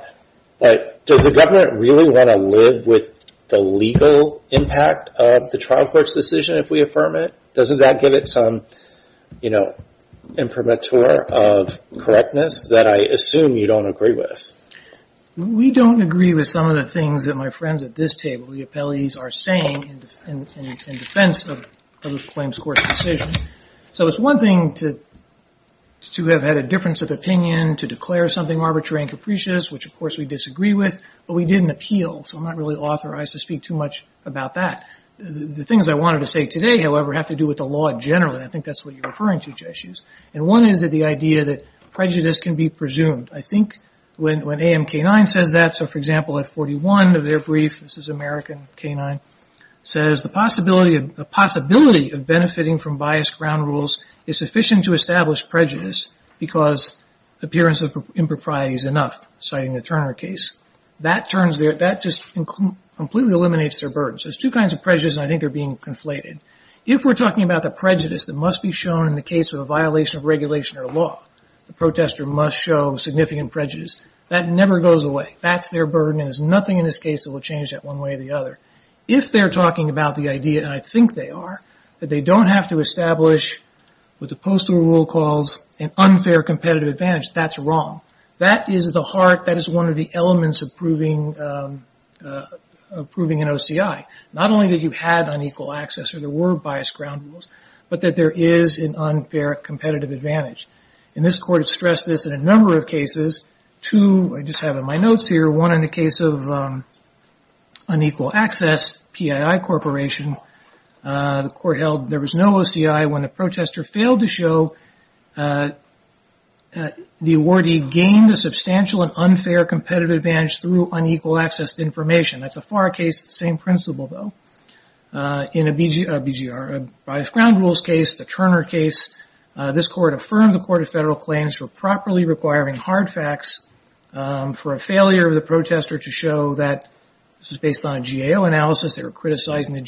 But does the government really want to live with the legal impact of the trial court's decision if we affirm it? Doesn't that give it some imprimatur of correctness that I assume you don't agree with? We don't agree with some of the things that my friends at this table, the appellees, are saying in defense of the claims court's decision. So it's one thing to have had a difference of opinion, to declare something arbitrary and capricious, which, of course, we disagree with. But we did an appeal, so I'm not really authorized to speak too much about that. The things I wanted to say today, however, have to do with the law in general, and I think that's what you're referring to, Jesus. And one is the idea that prejudice can be presumed. I think when AMK 9 says that, so for example, at 41 of their brief, this is American K-9, says, the possibility of benefiting from biased ground rules is sufficient to establish prejudice because appearance of impropriety is enough, citing the Turner case. That just completely eliminates their burden. So there's two kinds of prejudice, and I think they're being conflated. If we're talking about the prejudice that must be shown in the case of a violation of regulation or law, the protester must show significant prejudice. That never goes away. That's their burden, and there's nothing in this case that will change that one way or the other. If they're talking about the idea, and I think they are, that they don't have to establish what the postal rule calls an unfair competitive advantage, that's wrong. That is the heart, that is one of the elements of proving an OCI. Not only that you had unequal access or there were biased ground rules, but that there is an unfair competitive advantage. And this court has stressed this in a number of cases. Two, I just have in my notes here, one in the case of unequal access, PII Corporation. The court held there was no OCI. When the protester failed to show the awardee gained a substantial and unfair competitive advantage through unequal access to information. That's a far case, same principle though. In a biased ground rules case, the Turner case, this court affirmed the Court of Federal Claims for properly requiring hard facts for a failure of the protester to show that this was based on a GAO analysis. They were criticizing the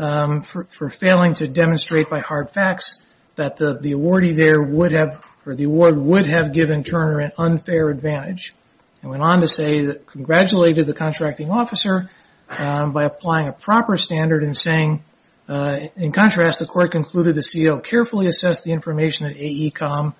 GAO for failing to demonstrate by hard facts that the awardee there would have, or the award would have given Turner an unfair advantage. It went on to say that it congratulated the contracting officer by applying a proper standard and saying, in contrast, the court concluded the CO carefully assessed the information that AECOM,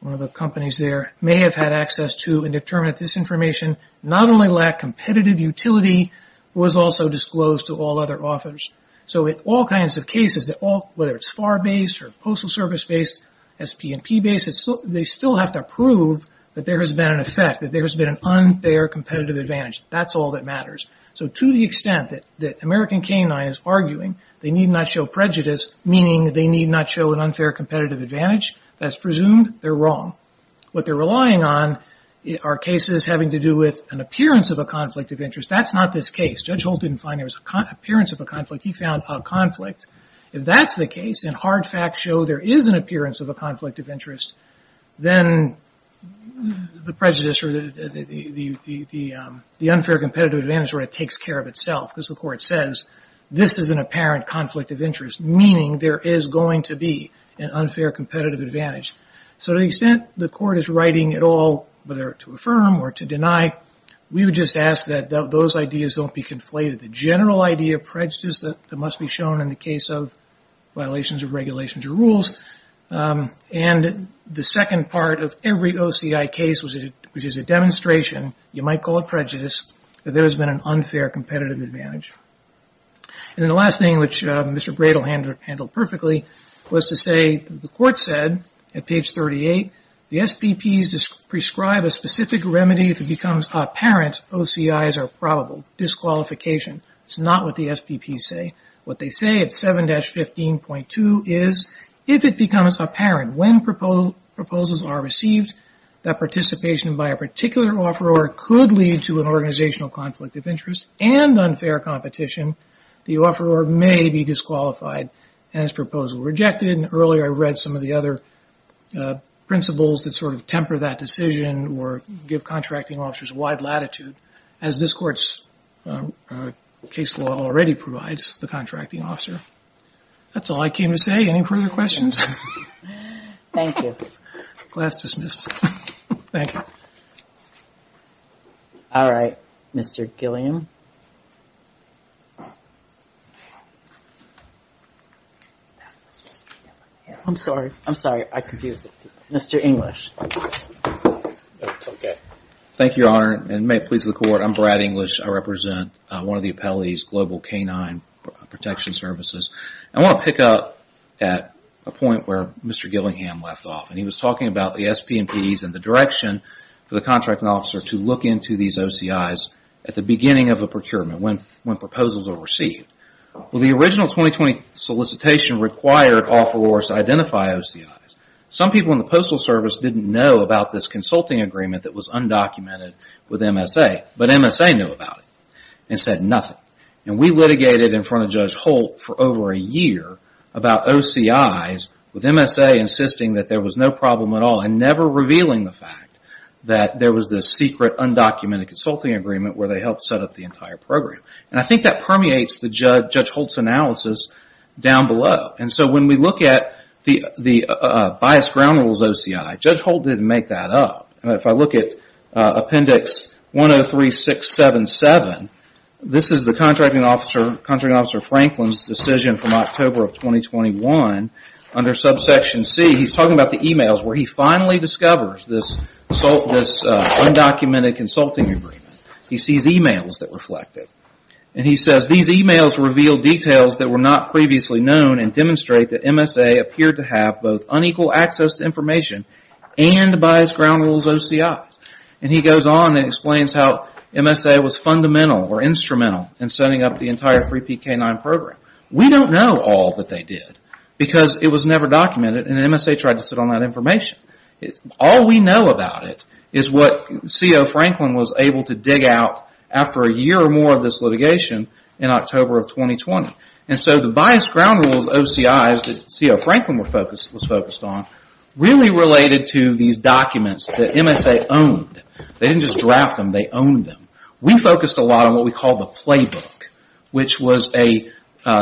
one of the companies there, may have had access to and determined that this information not only lacked competitive utility, but was also disclosed to all other authors. So in all kinds of cases, whether it's FAR based or Postal Service based, SP&P based, they still have to prove that there has been an effect, that there has been an unfair competitive advantage. That's all that matters. So to the extent that American K-9 is arguing they need not show prejudice, meaning they need not show an unfair competitive advantage, that's presumed they're wrong. What they're relying on are cases having to do with an appearance of a conflict of interest. That's not this case. Judge Holt didn't find there was an appearance of a conflict. He found a conflict. If that's the case and hard facts show there is an appearance of a conflict of interest, then the prejudice or the unfair competitive advantage takes care of itself, because the court says this is an apparent conflict of interest, meaning there is going to be an unfair competitive advantage. So to the extent the court is writing it all, whether to affirm or to deny, we would just ask that those ideas don't be conflated. The general idea of prejudice that must be shown in the case of violations of regulations or rules, and the second part of every OCI case, which is a demonstration, you might call it prejudice, that there has been an unfair competitive advantage. And then the last thing, which Mr. Bradel handled perfectly, was to say the court said at page 38, the SPPs prescribe a specific remedy if it becomes apparent OCIs are probable. Disqualification. It's not what the SPPs say. What they say at 7-15.2 is if it becomes apparent when proposals are received, that participation by a particular offeror could lead to an organizational conflict of interest and unfair competition, the offeror may be disqualified and his proposal rejected. Earlier I read some of the other principles that sort of temper that decision or give contracting officers wide latitude, as this court's case law already provides the contracting officer. That's all I came to say. Any further questions? Thank you. Class dismissed. Thank you. All right. Mr. Gilliam. I'm sorry. I'm sorry. I confused it. Mr. English. Thank you, Your Honor, and may it please the court. I'm Brad English. I represent one of the appellees, Global Canine Protection Services. I want to pick up at a point where Mr. Gillingham left off, and he was talking about the SP&Ps and the direction for the contracting officer to look into these OCIs at the beginning of a procurement, when proposals are received. Well, the original 2020 solicitation required offerors to identify OCIs. Some people in the Postal Service didn't know about this consulting agreement that was undocumented with MSA, but MSA knew about it and said nothing. And we litigated in front of Judge Holt for over a year about OCIs, with MSA insisting that there was no problem at all and never revealing the fact that there was this secret undocumented consulting agreement where they helped set up the entire program. And I think that permeates Judge Holt's analysis down below. And so when we look at the biased ground rules OCI, Judge Holt didn't make that up. And if I look at Appendix 103-677, this is the contracting officer Franklin's decision from October of 2021 under subsection C. He's talking about the emails where he finally discovers this undocumented consulting agreement. He sees emails that reflect it. And he says, These emails reveal details that were not previously known and demonstrate that MSA appeared to have both unequal access to information and biased ground rules OCIs. And he goes on and explains how MSA was fundamental or instrumental in setting up the entire 3PK9 program. We don't know all that they did because it was never documented and MSA tried to sit on that information. All we know about it is what C.O. Franklin was able to dig out after a year or more of this litigation in October of 2020. And so the biased ground rules OCIs that C.O. Franklin was focused on really related to these documents that MSA owned. They didn't just draft them, they owned them. We focused a lot on what we called the playbook, which was a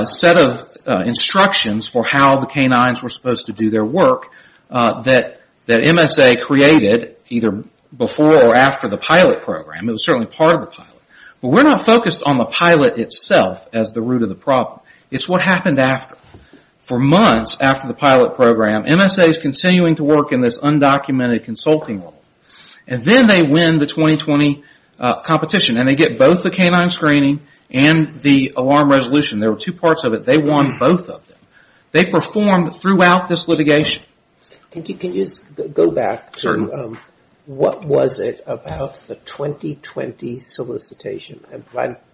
set of instructions for how the canines were supposed to do their work that MSA created either before or after the pilot program. It was certainly part of the pilot. But we're not focused on the pilot itself as the root of the problem. It's what happened after. For months after the pilot program, MSA is continuing to work in this undocumented consulting role. And then they win the 2020 competition and they get both the canine screening and the alarm resolution. There were two parts of it. They won both of them. They performed throughout this litigation. Can you go back to what was it about the 2020 solicitation?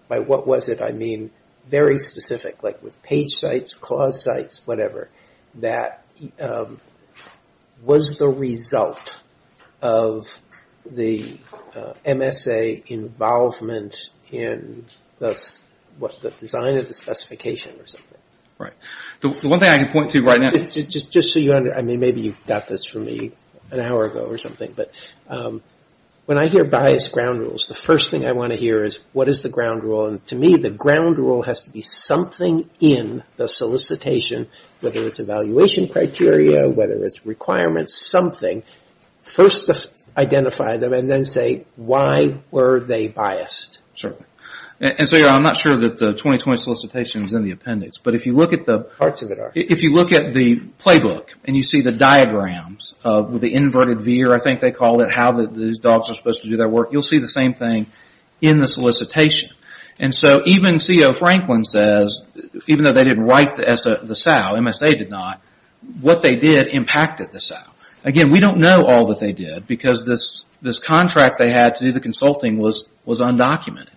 By what was it, I mean very specific. Like with page sites, clause sites, whatever. That was the result of the MSA involvement in the design of the specification. The one thing I can point to right now. Maybe you got this from me an hour ago or something. When I hear biased ground rules, the first thing I want to hear is what is the ground rule. To me the ground rule has to be something in the solicitation, whether it's evaluation criteria, whether it's requirements, something. First identify them and then say why were they biased. I'm not sure that the 2020 solicitation is in the appendix. Parts of it are. If you look at the playbook, and you see the diagrams with the inverted veer, I think they call it, how the dogs are supposed to do their work, you'll see the same thing in the solicitation. Even C.O. Franklin says, even though they didn't write the SAO, MSA did not, what they did impacted the SAO. Again, we don't know all that they did, because this contract they had to do the consulting was undocumented.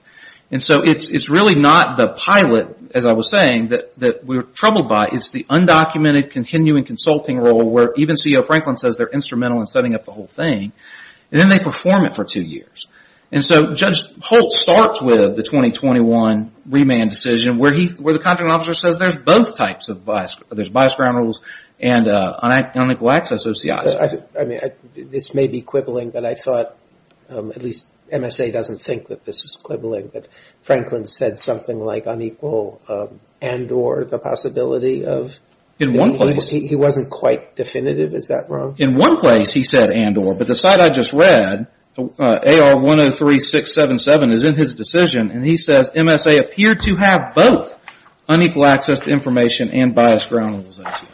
It's really not the pilot, as I was saying, that we're troubled by. It's the undocumented continuing consulting role, where even C.O. Franklin says they're instrumental in setting up the whole thing. Then they perform it for two years. Judge Holt starts with the 2021 remand decision, where the contracting officer says there's both types of bias. There's biased ground rules and unequal access OCI. This may be quibbling, but I thought, at least MSA doesn't think that this is quibbling, but Franklin said something like unequal and or, the possibility of. In one place. He wasn't quite definitive, is that wrong? In one place he said and or, but the site I just read, AR103677 is in his decision and he says, MSA appeared to have both unequal access to information and biased ground rules OCI.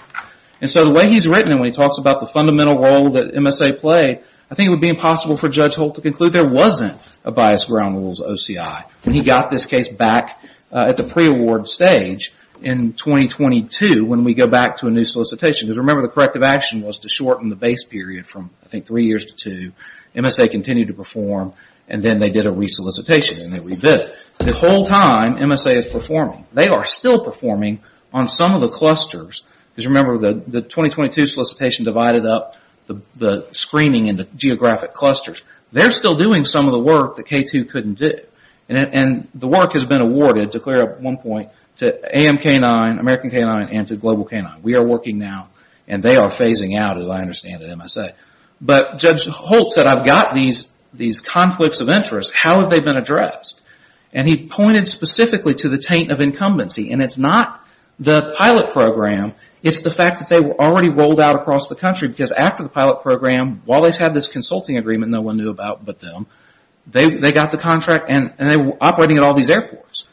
The way he's written it, when he talks about the fundamental role that MSA played, I think it would be impossible for Judge Holt to conclude there wasn't a biased ground rules OCI. He got this case back at the pre-award stage in 2022, when we go back to a new solicitation. Remember the corrective action was to shorten the base period from three years to two. MSA continued to perform and then they did a re-solicitation and they re-did it. The whole time MSA is performing. They are still performing on some of the clusters. Because remember the 2022 solicitation divided up the screening into geographic clusters. They're still doing some of the work that K2 couldn't do. And the work has been awarded, to clear up one point, to AMK9, American K9 and to Global K9. We are working now and they are phasing out, as I understand it, MSA. But Judge Holt said, I've got these conflicts of interest. How have they been addressed? And he pointed specifically to the taint of incumbency. And it's not the pilot program. It's the fact that they were already rolled out across the country. Because after the pilot program, while they had this consulting agreement no one knew about but them. They got the contract and they were operating at all these airports.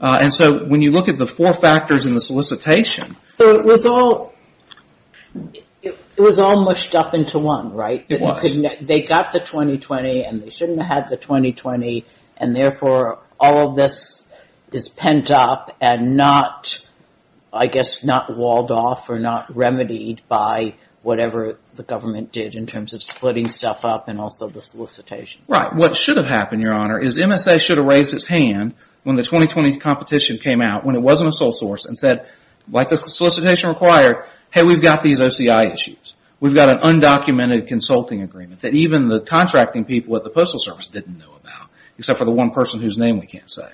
And so when you look at the four factors in the solicitation. So it was all, it was all mushed up into one, right? It was. They got the 2020 and they shouldn't have had the 2020. And therefore all of this is pent up and not, I guess not walled off or not remedied by whatever the government did in terms of splitting stuff up and also the solicitation. Right. What should have happened, Your Honor, is MSA should have raised its hand when the 2020 competition came out when it wasn't a sole source and said, like the solicitation required, hey, we've got these OCI issues. We've got an undocumented consulting agreement that even the contracting people at the Postal Service didn't know about except for the one person whose name we can't say.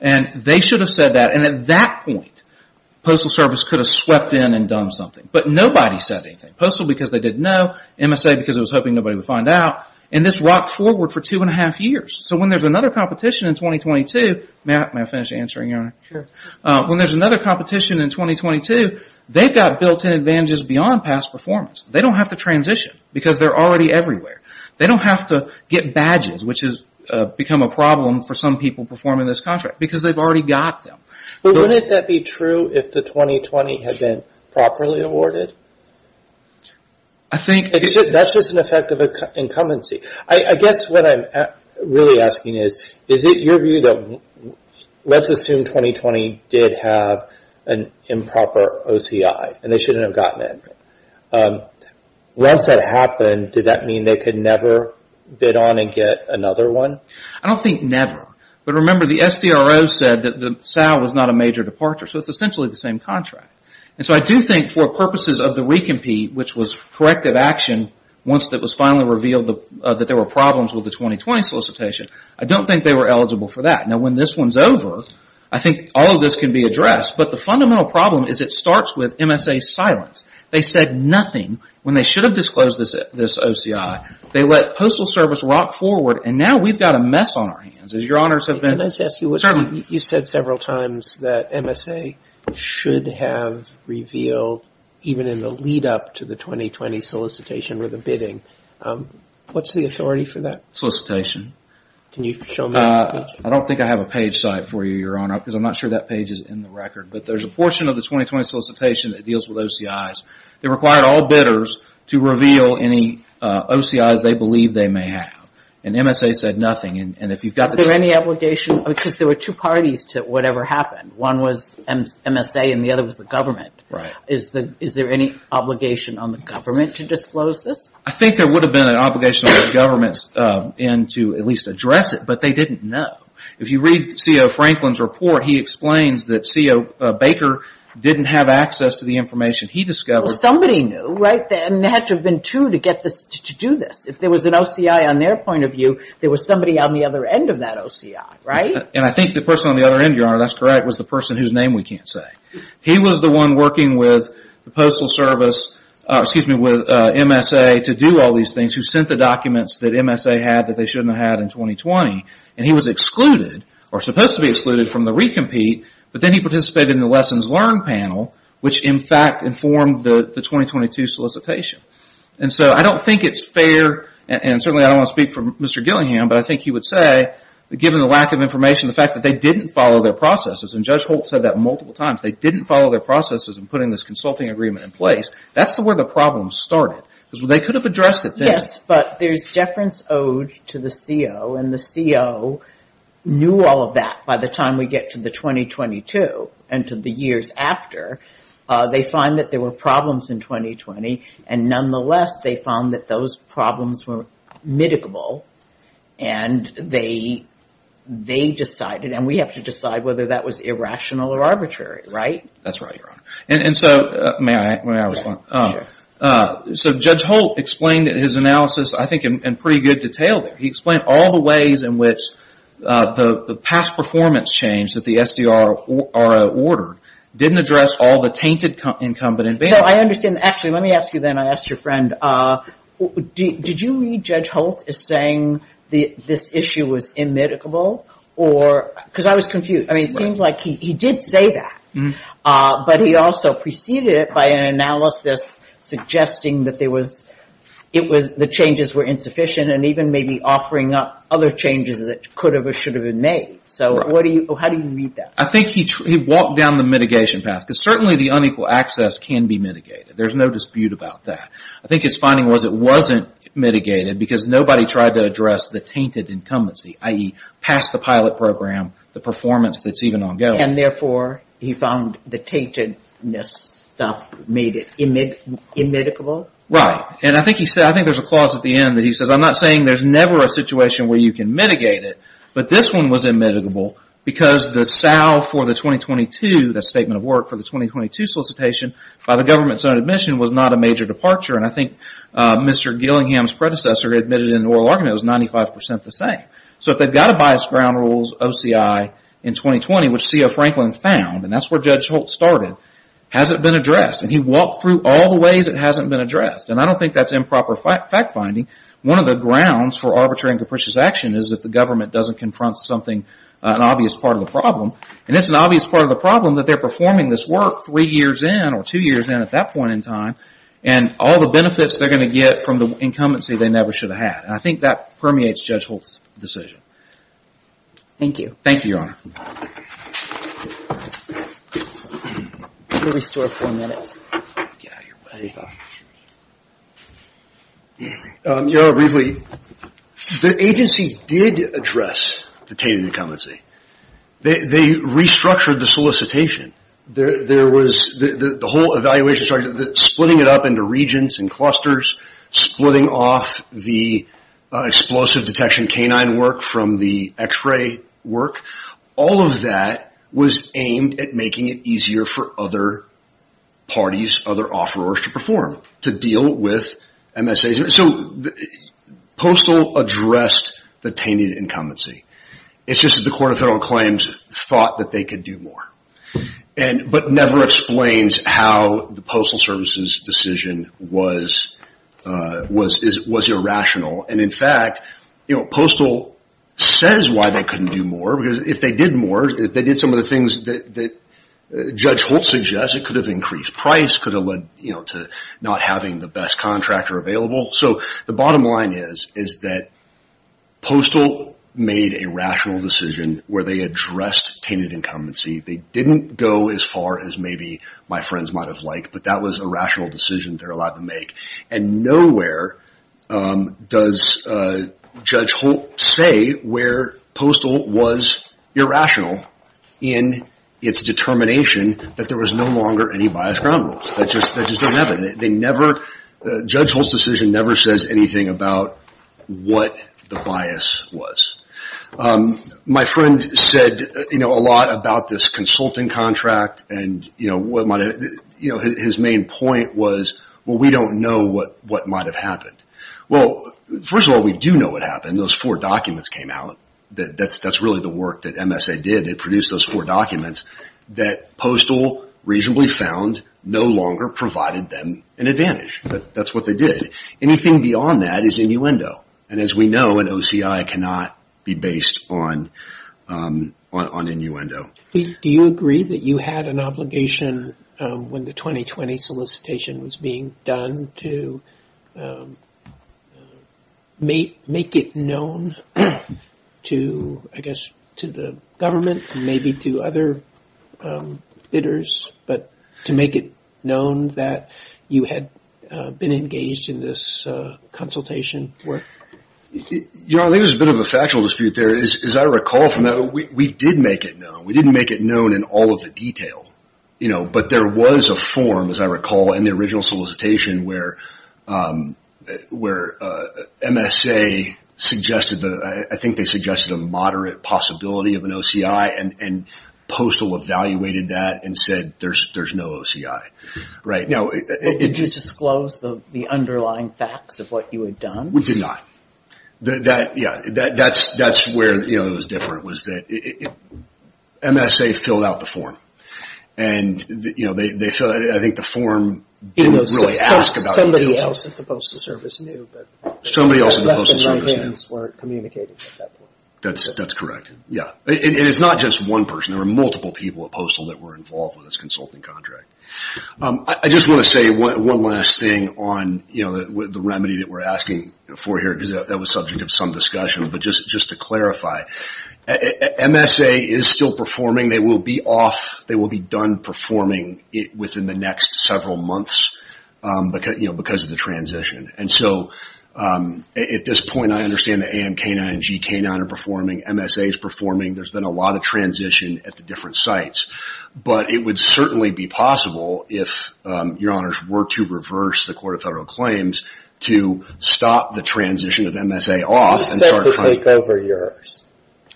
And they should have said that. And at that point, Postal Service could have swept in and done something. But nobody said anything. Postal because they didn't know. MSA because it was hoping nobody would find out. And this rocked forward for two and a half years. So when there's another competition in 2022, may I finish answering, Your Honor? Sure. When there's another competition in 2022, they've got built-in advantages beyond past performance. They don't have to transition because they're already everywhere. They don't have to get badges, which has become a problem for some people performing this contract because they've already got them. But wouldn't that be true if the 2020 had been properly awarded? I think it should. That's just an effect of incumbency. I guess what I'm really asking is, is it your view that let's assume 2020 did have an improper OCI and they shouldn't have gotten it. Once that happened, did that mean they could never bid on and get another one? I don't think never. But remember, the SDRO said that the SAL was not a major departure. So it's essentially the same contract. And so I do think for purposes of the recompete, which was corrective action, once it was finally revealed that there were problems with the 2020 solicitation, I don't think they were eligible for that. Now, when this one's over, I think all of this can be addressed. But the fundamental problem is it starts with MSA's silence. They said nothing when they should have disclosed this OCI. They let Postal Service rock forward, and now we've got a mess on our hands. As Your Honors have been- Can I just ask you- Certainly. You've said several times that MSA should have revealed, even in the lead-up to the 2020 solicitation or the bidding, what's the authority for that? Solicitation. Can you show me that page? I don't think I have a page site for you, Your Honor, because I'm not sure that page is in the record. But there's a portion of the 2020 solicitation that deals with OCI's. It required all bidders to reveal any OCI's they believe they may have. And MSA said nothing. Is there any obligation? Because there were two parties to whatever happened. One was MSA and the other was the government. Is there any obligation on the government to disclose this? I think there would have been an obligation on the government to at least address it, but they didn't know. If you read C.O. Franklin's report, he explains that C.O. Baker didn't have access to the information he discovered. Somebody knew, right? There had to have been two to do this. If there was an OCI on their point of view, there was somebody on the other end of that OCI, right? And I think the person on the other end, Your Honor, that's correct, was the person whose name we can't say. He was the one working with the Postal Service, excuse me, with MSA to do all these things, who sent the documents that MSA had that they shouldn't have had in 2020. And he was excluded or supposed to be excluded from the re-compete, but then he participated in the Lessons Learned panel, which in fact informed the 2022 solicitation. And so I don't think it's fair, and certainly I don't want to speak for Mr. Gillingham, but I think he would say that given the lack of information, the fact that they didn't follow their processes, and Judge Holt said that multiple times, they didn't follow their processes in putting this consulting agreement in place, that's where the problem started. Because they could have addressed it then. Yes, but there's deference owed to the C.O., and the C.O. knew all of that by the time we get to the 2022 and to the years after. They find that there were problems in 2020, and nonetheless, they found that those problems were mitigable, and they decided, and we have to decide whether that was irrational or arbitrary, right? That's right, Your Honor. And so, may I respond? Sure. So Judge Holt explained his analysis, I think, in pretty good detail there. He explained all the ways in which the past performance change that the S.D.R. ordered didn't address all the tainted incumbent. I understand. Actually, let me ask you then. I asked your friend, did you read Judge Holt as saying this issue was immedicable? Because I was confused. It seems like he did say that, but he also preceded it by an analysis suggesting that the changes were insufficient and even maybe offering up other changes that could have or should have been made. So how do you read that? I think he walked down the mitigation path, because certainly the unequal access can be mitigated. There's no dispute about that. I think his finding was it wasn't mitigated, because nobody tried to address the tainted incumbency, i.e., past the pilot program, the performance that's even ongoing. And therefore, he found the taintedness stuff made it immedicable? Right. And I think there's a clause at the end that he says, I'm not saying there's never a situation where you can mitigate it, but this one was immedicable because the salve for the 2022, the statement of work for the 2022 solicitation, by the government's own admission was not a major departure. And I think Mr. Gillingham's predecessor admitted in an oral argument it was 95% the same. So if they've got a biased ground rules OCI in 2020, which C.O. Franklin found, and that's where Judge Holt started, hasn't been addressed. And he walked through all the ways it hasn't been addressed. And I don't think that's improper fact-finding. One of the grounds for arbitrary and capricious action is if the government doesn't confront something, an obvious part of the problem. And it's an obvious part of the problem that they're performing this work three years in, or two years in at that point in time, and all the benefits they're going to get from the incumbency they never should have had. And I think that permeates Judge Holt's decision. Thank you. Thank you, Your Honor. We'll restore four minutes. Get out of your way. Your Honor, briefly, the agency did address detainee incumbency. They restructured the solicitation. The whole evaluation started splitting it up into regions and clusters, splitting off the explosive detection canine work from the x-ray work. All of that was aimed at making it easier for other parties, other offerors to perform, to deal with MSAs. So Postal addressed the detainee incumbency. It's just that the Court of Federal Claims thought that they could do more, but never explains how the Postal Service's decision was irrational. And, in fact, Postal says why they couldn't do more, because if they did more, if they did some of the things that Judge Holt suggests, it could have increased price, could have led to not having the best contractor available. So the bottom line is that Postal made a rational decision where they addressed detainee incumbency. They didn't go as far as maybe my friends might have liked, but that was a rational decision they're allowed to make. And nowhere does Judge Holt say where Postal was irrational in its determination that there was no longer any biased ground rules. That just doesn't happen. Judge Holt's decision never says anything about what the bias was. My friend said a lot about this consulting contract, and his main point was, well, we don't know what might have happened. Well, first of all, we do know what happened. Those four documents came out. That's really the work that MSA did. They produced those four documents that Postal reasonably found no longer provided them an advantage. That's what they did. Anything beyond that is innuendo, and as we know, an OCI cannot be based on innuendo. Do you agree that you had an obligation when the 2020 solicitation was being done to make it known to, I guess, to the government and maybe to other bidders, but to make it known that you had been engaged in this consultation work? I think there's a bit of a factual dispute there. As I recall from that, we did make it known. We didn't make it known in all of the detail, but there was a form, as I recall, in the original solicitation where MSA suggested, I think they suggested a moderate possibility of an OCI, and Postal evaluated that and said there's no OCI. Did you disclose the underlying facts of what you had done? We did not. Yeah, that's where it was different was that MSA filled out the form, and I think the form didn't really ask about it. Somebody else at the Postal Service knew. Somebody else at the Postal Service knew. The left and right hands weren't communicating at that point. That's correct, yeah. And it's not just one person. There were multiple people at Postal that were involved with this consulting contract. I just want to say one last thing on the remedy that we're asking for here, because that was subject of some discussion. But just to clarify, MSA is still performing. They will be off. They will be done performing within the next several months because of the transition. And so at this point, I understand that AMK9 and GK9 are performing. MSA is performing. There's been a lot of transition at the different sites. But it would certainly be possible if, Your Honors, were to reverse the Court of Federal Claims to stop the transition of MSA off. Who's set to take over yours?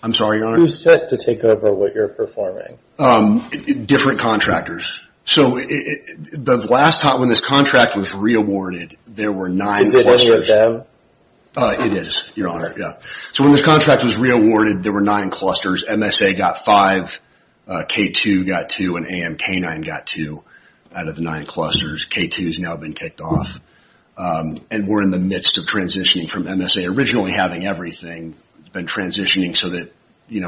I'm sorry, Your Honor? Who's set to take over what you're performing? Different contractors. So the last time when this contract was reawarded, there were nine clusters. Is it any of them? It is, Your Honor, yeah. So when this contract was reawarded, there were nine clusters. MSA got five, K2 got two, and AMK9 got two out of the nine clusters. K2 has now been kicked off. And we're in the midst of transitioning from MSA. Originally having everything has been transitioning so that they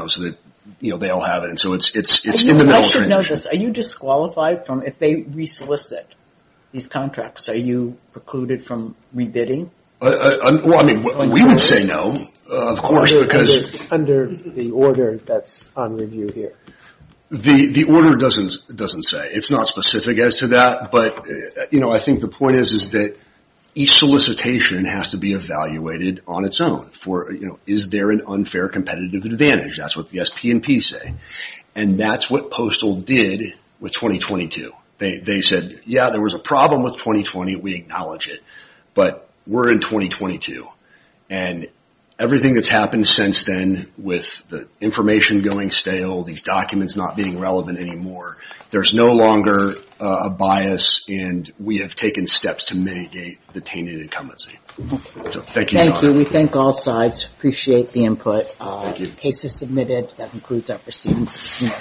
all have it. And so it's in the middle of transition. Are you disqualified if they resolicit these contracts? Are you precluded from rebidding? Well, I mean, we would say no, of course. Under the order that's on review here. The order doesn't say. It's not specific as to that. But I think the point is that each solicitation has to be evaluated on its own. Is there an unfair competitive advantage? That's what the SP&P say. And that's what Postal did with 2022. They said, yeah, there was a problem with 2020, we acknowledge it. But we're in 2022. And everything that's happened since then with the information going stale, these documents not being relevant anymore, there's no longer a bias and we have taken steps to mitigate the tainted incumbency. Thank you. Thank you. We thank all sides. Appreciate the input. Thank you. Case is submitted. That concludes our proceedings.